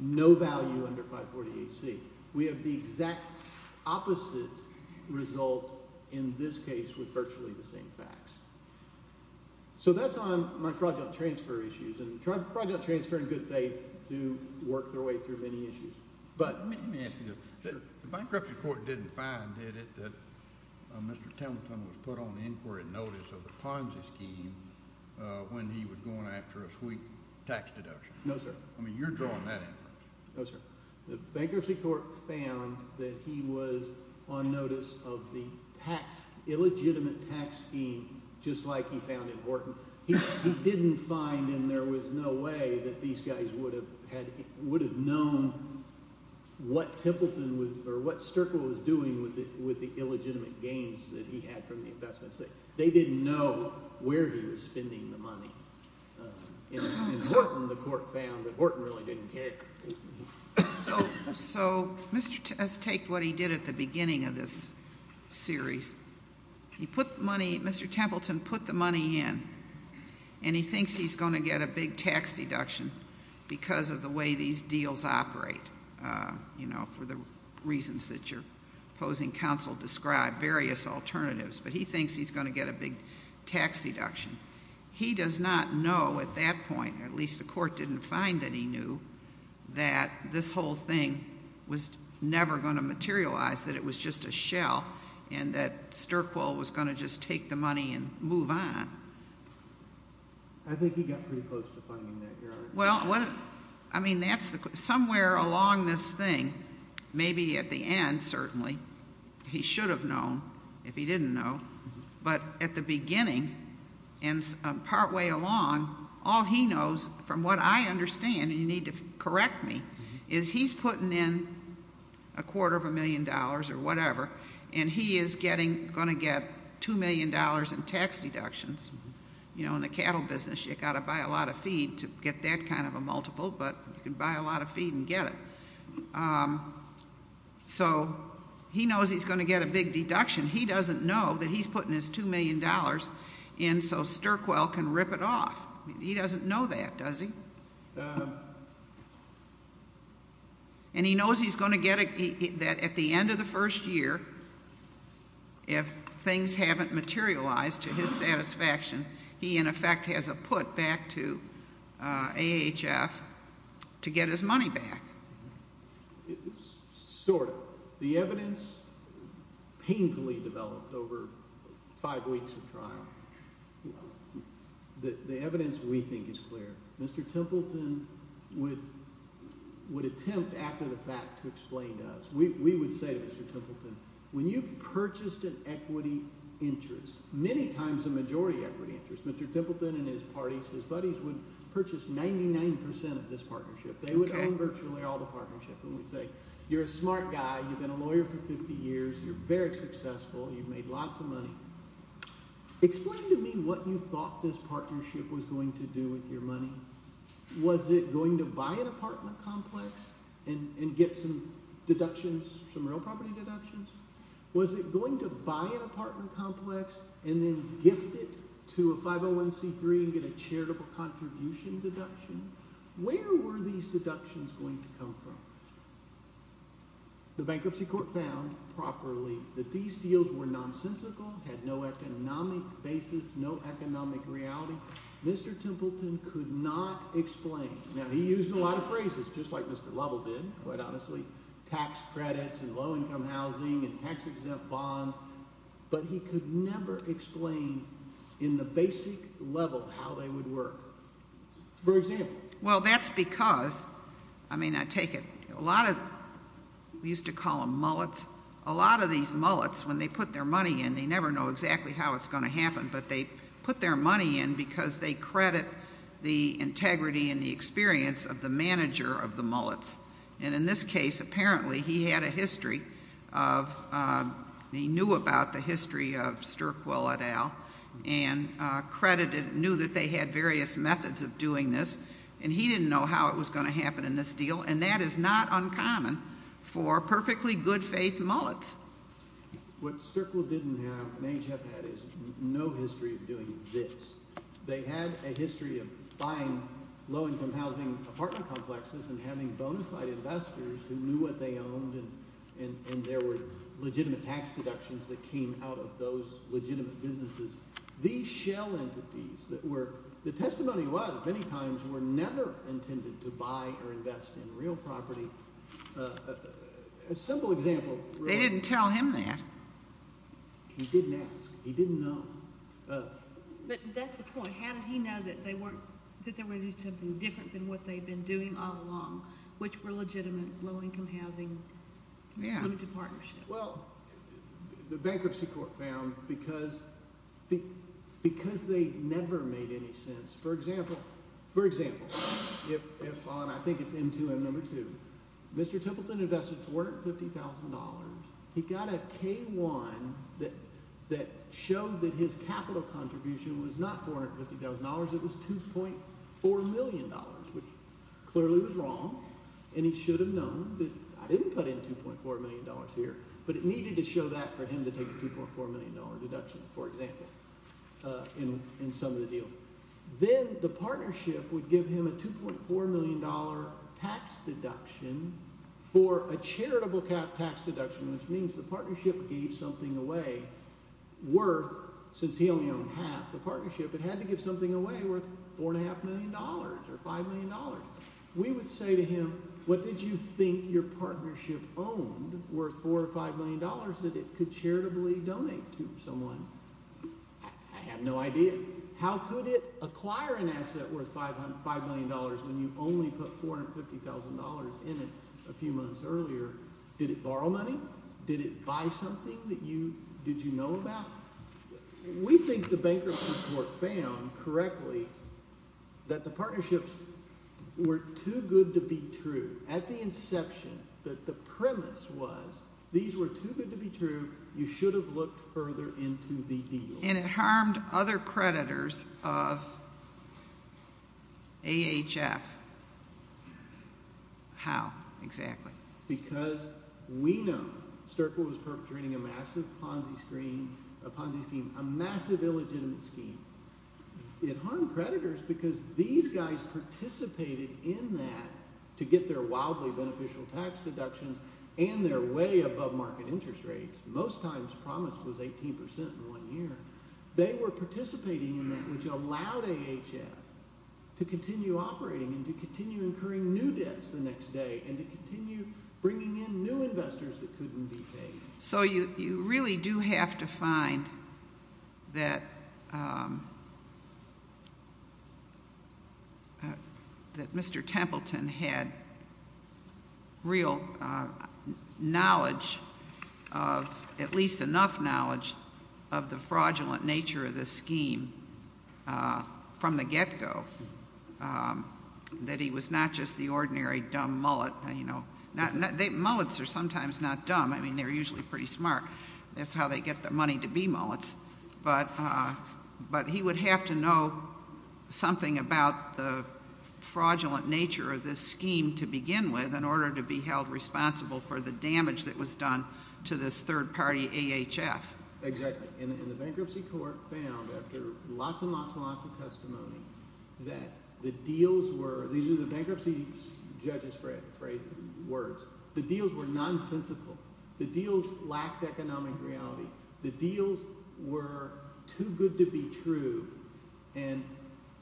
no value under 540HC. We have the exact opposite result in this case with virtually the same facts. So that's on my fraudulent transfer issues, and fraudulent transfer in good faith do work their way through many issues. But let me ask you this. The bankruptcy court didn't find, did it, that Mr. Templeton was put on inquiry notice of the Ponzi scheme when he was going after a sweet tax deduction? No, sir. I mean you're drawing that inference. No, sir. The bankruptcy court found that he was on notice of the tax – illegitimate tax scheme just like he found in Horton. He didn't find and there was no way that these guys would have known what Templeton was – or what Sterklow was doing with the illegitimate gains that he had from the investments. They didn't know where he was spending the money. In Horton, the court found that Horton really didn't care. So Mr. – let's take what he did at the beginning of this series. He put the money – Mr. Templeton put the money in and he thinks he's going to get a big tax deduction because of the way these deals operate, you know, for the reasons that your opposing counsel described, various alternatives. But he thinks he's going to get a big tax deduction. He does not know at that point, or at least the court didn't find that he knew, that this whole thing was never going to materialize, that it was just a shell and that Sterklow was going to just take the money and move on. I think he got pretty close to finding that, Your Honor. Well, what – I mean that's the – somewhere along this thing, maybe at the end certainly, he should have known if he didn't know. But at the beginning and partway along, all he knows from what I understand, and you need to correct me, is he's putting in a quarter of a million dollars or whatever, and he is getting – going to get $2 million in tax deductions. You know, in the cattle business, you've got to buy a lot of feed to get that kind of a multiple, but you can buy a lot of feed and get it. So he knows he's going to get a big deduction. He doesn't know that he's putting his $2 million in so Sterklow can rip it off. He doesn't know that, does he? And he knows he's going to get – that at the end of the first year, if things haven't materialized to his satisfaction, he in effect has a put back to AHF to get his money back. Sort of. The evidence painfully developed over five weeks of trial, the evidence we think is clear. Mr. Templeton would attempt after the fact to explain to us. We would say to Mr. Templeton, when you purchased an equity interest, many times a majority equity interest, Mr. Templeton and his parties, his buddies, would purchase 99% of this partnership. They would own virtually all the partnership, and we'd say you're a smart guy. You've been a lawyer for 50 years. You're very successful. You've made lots of money. Explain to me what you thought this partnership was going to do with your money. Was it going to buy an apartment complex and get some deductions, some real property deductions? Was it going to buy an apartment complex and then gift it to a 501c3 and get a charitable contribution deduction? Where were these deductions going to come from? The bankruptcy court found properly that these deals were nonsensical, had no economic basis, no economic reality. Mr. Templeton could not explain. Now, he used a lot of phrases, just like Mr. Lovell did, quite honestly, tax credits and low-income housing and tax-exempt bonds, but he could never explain in the basic level how they would work. For example? Well, that's because, I mean, I take it, a lot of, we used to call them mullets, a lot of these mullets, when they put their money in, they never know exactly how it's going to happen, but they put their money in because they credit the integrity and the experience of the manager of the mullets. And in this case, apparently, he had a history of, he knew about the history of Sturckwell et al. and credited, knew that they had various methods of doing this, and he didn't know how it was going to happen in this deal, and that is not uncommon for perfectly good-faith mullets. What Sturckwell didn't have, Mangef had, is no history of doing this. They had a history of buying low-income housing apartment complexes and having bona fide investors who knew what they owned and there were legitimate tax deductions that came out of those legitimate businesses. These shell entities that were, the testimony was, many times were never intended to buy or invest in real property. A simple example. They didn't tell him that. He didn't ask. He didn't know. But that's the point. How did he know that they weren't, that they were doing something different than what they'd been doing all along, which were legitimate low-income housing limited partnerships? Well, the bankruptcy court found because they never made any sense. For example, if on, I think it's M2M number two, Mr. Templeton invested $450,000, he got a K-1 that showed that his capital contribution was not $450,000, it was $2.4 million, which clearly was wrong, and he should have known that I didn't put in $2.4 million here, but it needed to show that for him to take a $2.4 million deduction, for example, in some of the deals. Then the partnership would give him a $2.4 million tax deduction for a charitable tax deduction, which means the partnership gave something away worth, since he only owned half the partnership, it had to give something away worth $4.5 million or $5 million. We would say to him, what did you think your partnership owned worth $4 or $5 million that it could charitably donate to someone? I have no idea. How could it acquire an asset worth $5 million when you only put $450,000 in it a few months earlier? Did it borrow money? Did it buy something that you – did you know about? We think the bankruptcy court found correctly that the partnerships were too good to be true. At the inception, the premise was these were too good to be true. You should have looked further into the deal. And it harmed other creditors of AHF. How exactly? Because we know Sterkle was perpetrating a massive Ponzi scheme, a massive illegitimate scheme. It harmed creditors because these guys participated in that to get their wildly beneficial tax deductions and their way above market interest rates. Most times promise was 18 percent in one year. They were participating in that, which allowed AHF to continue operating and to continue incurring new debts the next day and to continue bringing in new investors that couldn't be paid. So you really do have to find that Mr. Templeton had real knowledge of, at least enough knowledge, of the fraudulent nature of this scheme from the get-go, that he was not just the ordinary dumb mullet. Mullets are sometimes not dumb. I mean, they're usually pretty smart. That's how they get the money to be mullets. But he would have to know something about the fraudulent nature of this scheme to begin with in order to be held responsible for the damage that was done to this third-party AHF. Exactly. And the bankruptcy court found, after lots and lots and lots of testimony, that the deals were – these are the bankruptcy judge's words – the deals were nonsensical. The deals lacked economic reality. The deals were too good to be true. And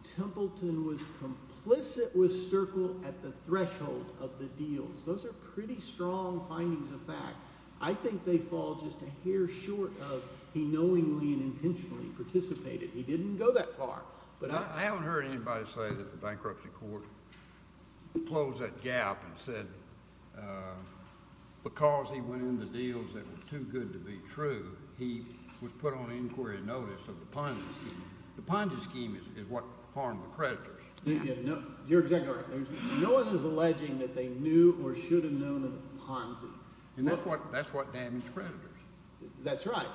Templeton was complicit with Sterkle at the threshold of the deals. Those are pretty strong findings of fact. I think they fall just a hair short of he knowingly and intentionally participated. He didn't go that far. I haven't heard anybody say that the bankruptcy court closed that gap and said because he went in the deals that were too good to be true, he was put on inquiry notice of the Ponzi scheme. The Ponzi scheme is what harmed the creditors. You're exactly right. No one is alleging that they knew or should have known of the Ponzi. And that's what damaged creditors. That's right.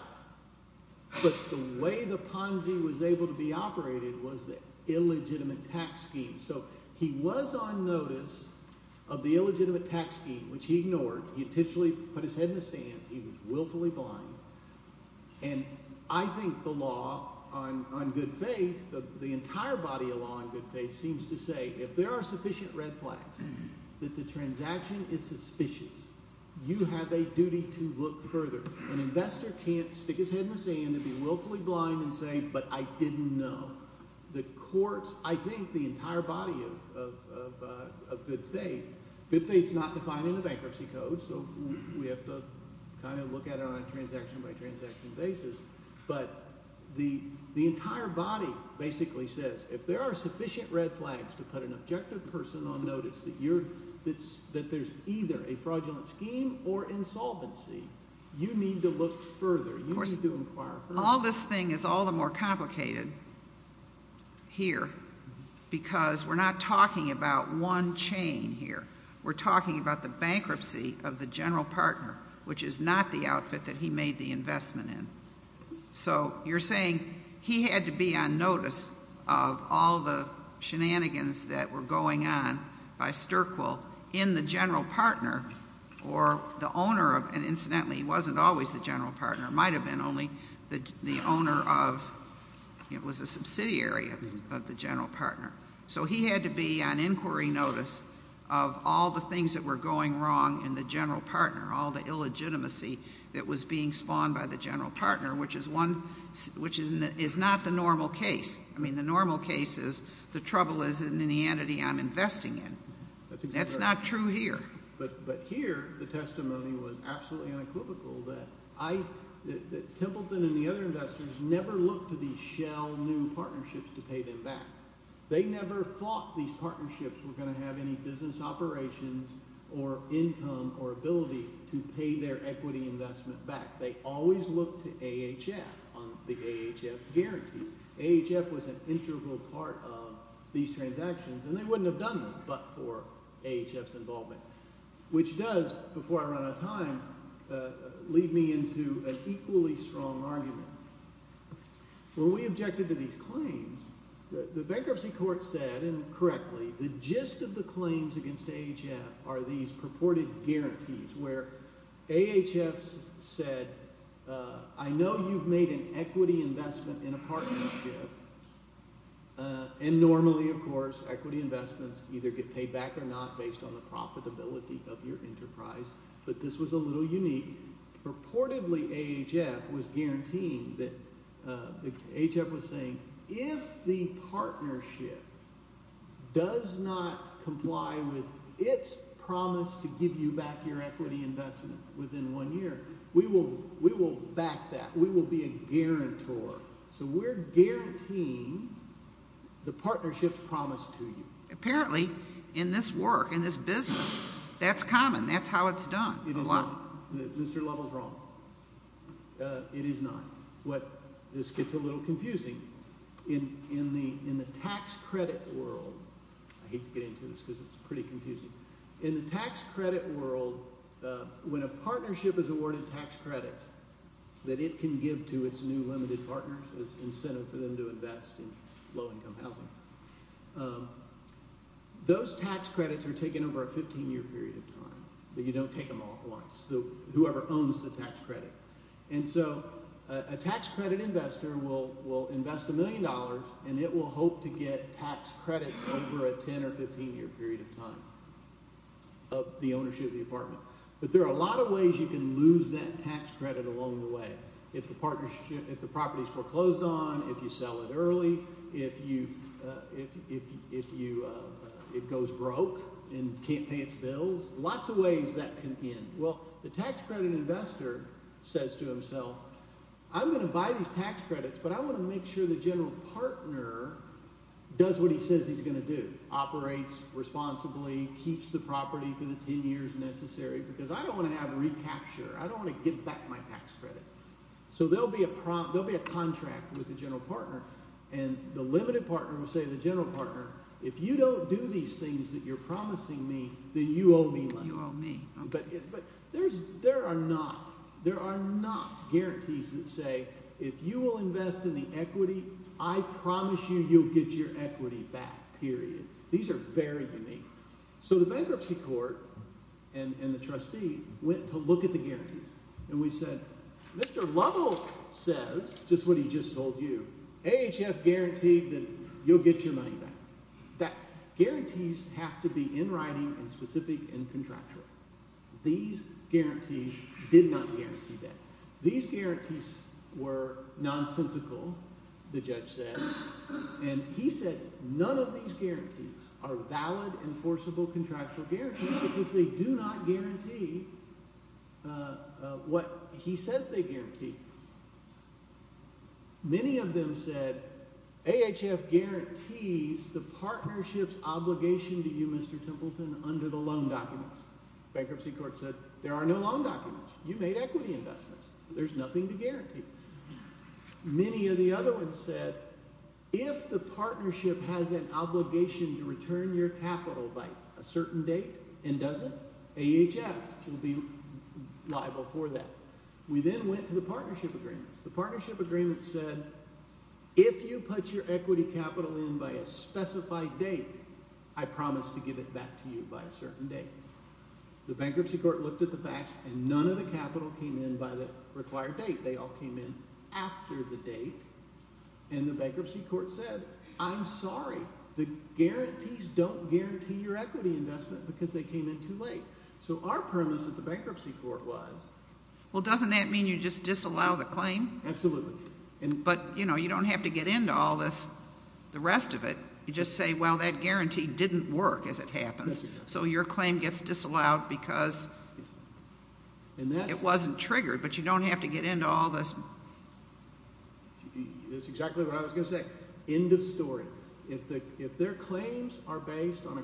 But the way the Ponzi was able to be operated was the illegitimate tax scheme. So he was on notice of the illegitimate tax scheme, which he ignored. He intentionally put his head in the sand. He was willfully blind. And I think the law on good faith, the entire body of law on good faith, seems to say if there are sufficient red flags, that the transaction is suspicious. You have a duty to look further. An investor can't stick his head in the sand and be willfully blind and say, but I didn't know. The courts – I think the entire body of good faith – good faith is not defined in the bankruptcy code, so we have to kind of look at it on a transaction-by-transaction basis. But the entire body basically says if there are sufficient red flags to put an objective person on notice that there's either a fraudulent scheme or insolvency, you need to look further. You need to inquire further. All this thing is all the more complicated here because we're not talking about one chain here. We're talking about the bankruptcy of the general partner, which is not the outfit that he made the investment in. So you're saying he had to be on notice of all the shenanigans that were going on by Sterkwill in the general partner or the owner of – and incidentally, he wasn't always the general partner. He might have been only the owner of – he was a subsidiary of the general partner. So he had to be on inquiry notice of all the things that were going wrong in the general partner, all the illegitimacy that was being spawned by the general partner, which is one – which is not the normal case. I mean the normal case is the trouble is in the entity I'm investing in. That's not true here. But here the testimony was absolutely unequivocal that I – that Templeton and the other investors never looked to these shell new partnerships to pay them back. They never thought these partnerships were going to have any business operations or income or ability to pay their equity investment back. They always looked to AHF on the AHF guarantees. AHF was an integral part of these transactions, and they wouldn't have done them but for AHF's involvement, which does, before I run out of time, lead me into an equally strong argument. When we objected to these claims, the bankruptcy court said, and correctly, the gist of the claims against AHF are these purported guarantees where AHF said, I know you've made an equity investment in a partnership. And normally, of course, equity investments either get paid back or not based on the profitability of your enterprise. But this was a little unique. Purportedly, AHF was guaranteeing that – AHF was saying if the partnership does not comply with its promise to give you back your equity investment within one year, we will back that. We will be a guarantor. So we're guaranteeing the partnership's promise to you. Apparently, in this work, in this business, that's common. That's how it's done. It is not. Mr. Lovell's wrong. It is not. What – this gets a little confusing. In the tax credit world – I hate to get into this because it's pretty confusing. In the tax credit world, when a partnership is awarded tax credits that it can give to its new limited partners as incentive for them to invest in low-income housing, those tax credits are taken over a 15-year period of time. You don't take them off once. Whoever owns the tax credit. And so a tax credit investor will invest a million dollars, and it will hope to get tax credits over a 10- or 15-year period of time of the ownership of the apartment. But there are a lot of ways you can lose that tax credit along the way. If the property is foreclosed on, if you sell it early, if you – it goes broke and can't pay its bills. Lots of ways that can end. Well, the tax credit investor says to himself, I'm going to buy these tax credits, but I want to make sure the general partner does what he says he's going to do. Operates responsibly, keeps the property for the 10 years necessary because I don't want to have recapture. I don't want to give back my tax credit. So there will be a contract with the general partner, and the limited partner will say to the general partner, if you don't do these things that you're promising me, then you owe me money. You owe me. But there are not – there are not guarantees that say if you will invest in the equity, I promise you you'll get your equity back, period. These are very unique. So the bankruptcy court and the trustee went to look at the guarantees, and we said Mr. Lovell says just what he just told you. AHF guaranteed that you'll get your money back. That guarantees have to be in writing and specific and contractual. These guarantees did not guarantee that. These guarantees were nonsensical, the judge said, and he said none of these guarantees are valid, enforceable, contractual guarantees because they do not guarantee what he says they guarantee. Many of them said AHF guarantees the partnership's obligation to you, Mr. Templeton, under the loan documents. Bankruptcy court said there are no loan documents. You made equity investments. There's nothing to guarantee. Many of the other ones said if the partnership has an obligation to return your capital by a certain date and doesn't, AHF will be liable for that. We then went to the partnership agreements. The partnership agreement said if you put your equity capital in by a specified date, I promise to give it back to you by a certain date. The bankruptcy court looked at the facts, and none of the capital came in by the required date. They all came in after the date, and the bankruptcy court said I'm sorry. The guarantees don't guarantee your equity investment because they came in too late. So our premise at the bankruptcy court was. Well, doesn't that mean you just disallow the claim? Absolutely. But, you know, you don't have to get into all this, the rest of it. You just say, well, that guarantee didn't work as it happens, so your claim gets disallowed because it wasn't triggered, but you don't have to get into all this. That's exactly what I was going to say. End of story. If their claims are based on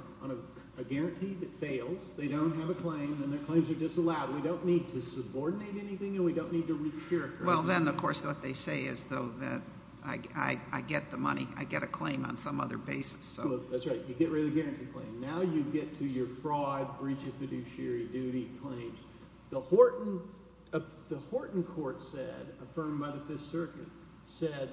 a guarantee that fails, they don't have a claim, then their claims are disallowed. We don't need to subordinate anything, and we don't need to re-cure it. Well, then, of course, what they say is, though, that I get the money. I get a claim on some other basis. That's right. You get rid of the guarantee claim. Now you get to your fraud, breach of fiduciary duty claims. The Horton court said, affirmed by the Fifth Circuit, said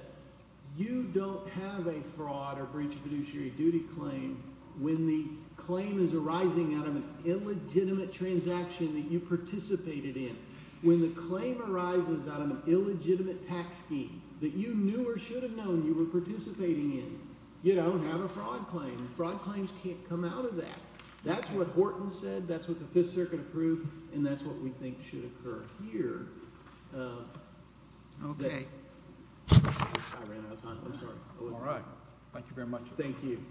you don't have a fraud or breach of fiduciary duty claim when the claim is arising out of an illegitimate transaction that you participated in. When the claim arises out of an illegitimate tax scheme that you knew or should have known you were participating in, you don't have a fraud claim. Fraud claims can't come out of that. That's what Horton said. That's what the Fifth Circuit approved, and that's what we think should occur here. Okay. I ran out of time. I'm sorry. All right. Thank you very much. Thank you.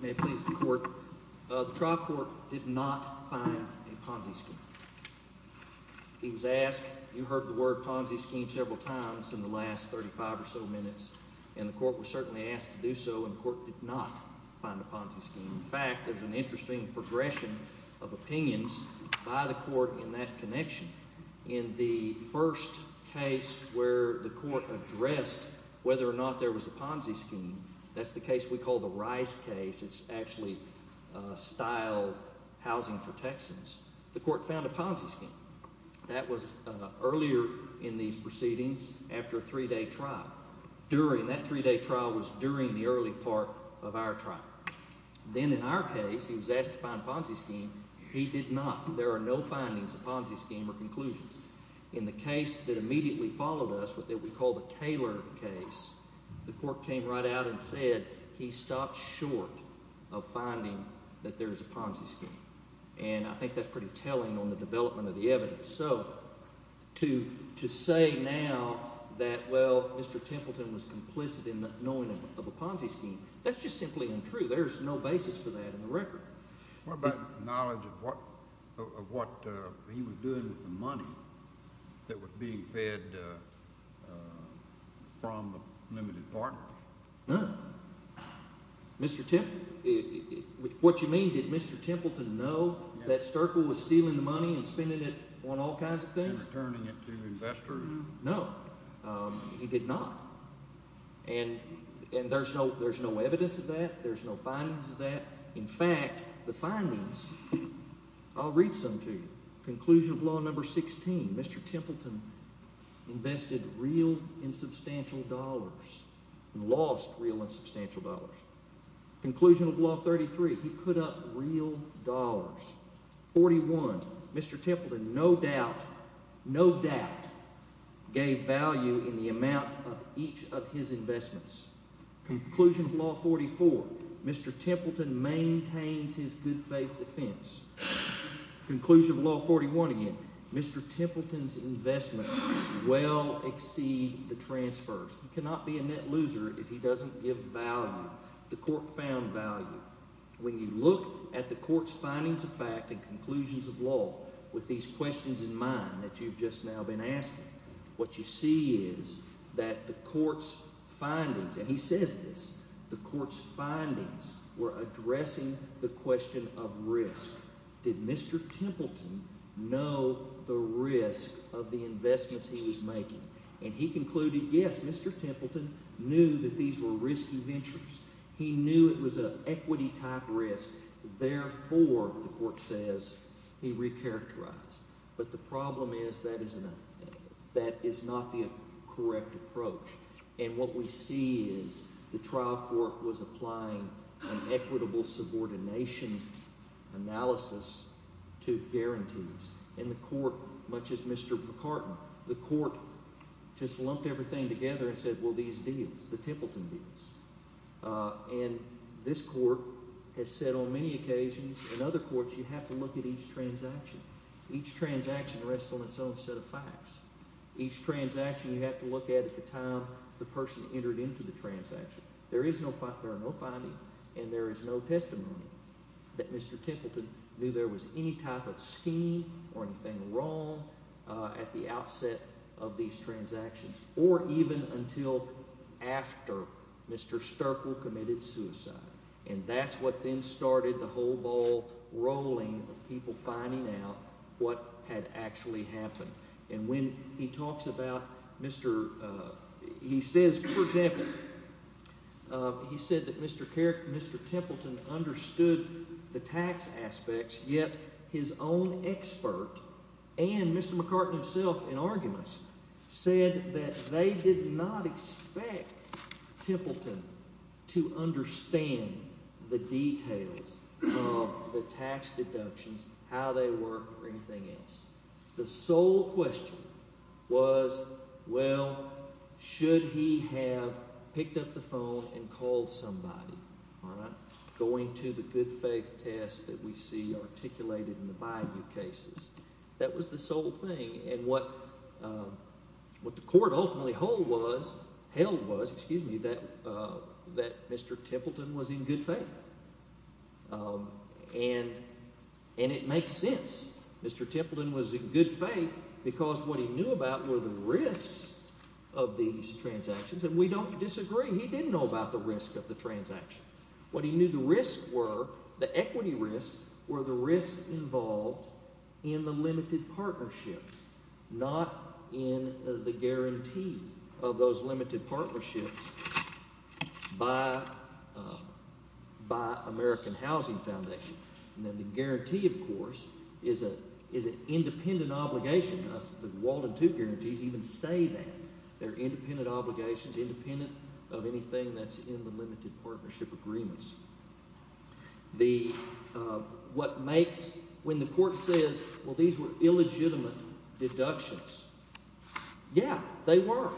May it please the court. The trial court did not find a Ponzi scheme. He was asked, you heard the word Ponzi scheme several times in the last 35 or so minutes, and the court was certainly asked to do so, and the court did not find a Ponzi scheme. In fact, there's an interesting progression of opinions by the court in that connection. In the first case where the court addressed whether or not there was a Ponzi scheme, that's the case we call the Rice case. It's actually styled housing for Texans. The court found a Ponzi scheme. That was earlier in these proceedings after a three-day trial. During that three-day trial was during the early part of our trial. Then in our case, he was asked to find a Ponzi scheme. He did not. There are no findings of Ponzi scheme or conclusions. In the case that immediately followed us, what we call the Kaler case, the court came right out and said he stopped short of finding that there is a Ponzi scheme. And I think that's pretty telling on the development of the evidence. So to say now that, well, Mr. Templeton was complicit in knowing of a Ponzi scheme, that's just simply untrue. There's no basis for that in the record. What about knowledge of what he was doing with the money that was being fed from the limited partners? None. Mr. Templeton? What you mean, did Mr. Templeton know that Sterkle was stealing the money and spending it on all kinds of things? And returning it to investors? No. He did not. And there's no evidence of that. There's no findings of that. In fact, the findings, I'll read some to you. Conclusion of law number 16, Mr. Templeton invested real and substantial dollars and lost real and substantial dollars. Conclusion of law 33, he put up real dollars. 41, Mr. Templeton no doubt, no doubt gave value in the amount of each of his investments. Conclusion of law 44, Mr. Templeton maintains his good faith defense. Conclusion of law 41 again, Mr. Templeton's investments well exceed the transfers. He cannot be a net loser if he doesn't give value. The court found value. When you look at the court's findings of fact and conclusions of law with these questions in mind that you've just now been asking, what you see is that the court's findings, and he says this, the court's findings were addressing the question of risk. Did Mr. Templeton know the risk of the investments he was making? And he concluded, yes, Mr. Templeton knew that these were risky ventures. He knew it was an equity-type risk. Therefore, the court says, he recharacterized. But the problem is that is not the correct approach. And what we see is the trial court was applying an equitable subordination analysis to guarantees. And the court, much as Mr. McCartney, the court just lumped everything together and said, well, these deals, the Templeton deals. And this court has said on many occasions in other courts you have to look at each transaction. Each transaction rests on its own set of facts. Each transaction you have to look at at the time the person entered into the transaction. There are no findings, and there is no testimony that Mr. Templeton knew there was any type of scheme or anything wrong at the outset of these transactions, or even until after Mr. Sterkle committed suicide. And that's what then started the whole ball rolling of people finding out what had actually happened. And when he talks about Mr. – he says, for example, he said that Mr. Templeton understood the tax aspects, yet his own expert and Mr. McCartney himself in arguments said that they did not expect Templeton to understand the details of the tax deductions, how they work, or anything else. The sole question was, well, should he have picked up the phone and called somebody, going to the good-faith test that we see articulated in the Bayou cases? That was the sole thing. And what the court ultimately held was that Mr. Templeton was in good faith. And it makes sense. Mr. Templeton was in good faith because what he knew about were the risks of these transactions, and we don't disagree. He didn't know about the risk of the transaction. What he knew the risks were, the equity risks, were the risks involved in the limited partnerships, not in the guarantee of those limited partnerships by American Housing Foundation. And then the guarantee, of course, is an independent obligation. The Walden II guarantees even say that. They're independent obligations, independent of anything that's in the limited partnership agreements. The – what makes – when the court says, well, these were illegitimate deductions, yeah, they were,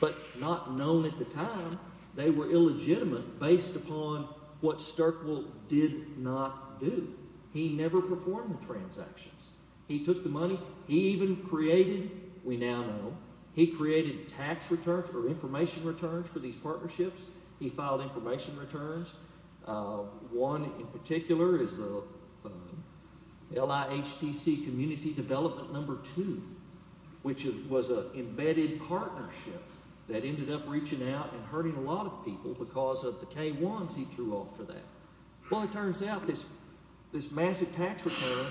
but not known at the time. They were illegitimate based upon what Stirkwell did not do. He never performed the transactions. He took the money. He even created – we now know – he created tax returns or information returns for these partnerships. He filed information returns. One in particular is the LIHTC Community Development No. 2, which was an embedded partnership that ended up reaching out and hurting a lot of people because of the K-1s he threw off for that. Well, it turns out this massive tax return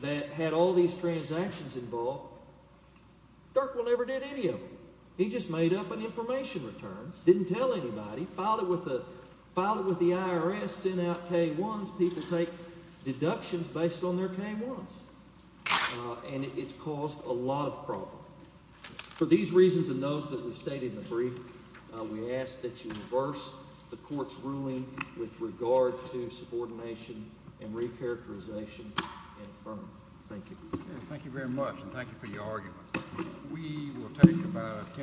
that had all these transactions involved, Stirkwell never did any of them. He just made up an information return, didn't tell anybody, filed it with the IRS, sent out K-1s. People take deductions based on their K-1s, and it's caused a lot of problems. For these reasons and those that were stated in the brief, we ask that you reverse the court's ruling with regard to subordination and recharacterization and affirm. Thank you. Thank you very much, and thank you for your argument.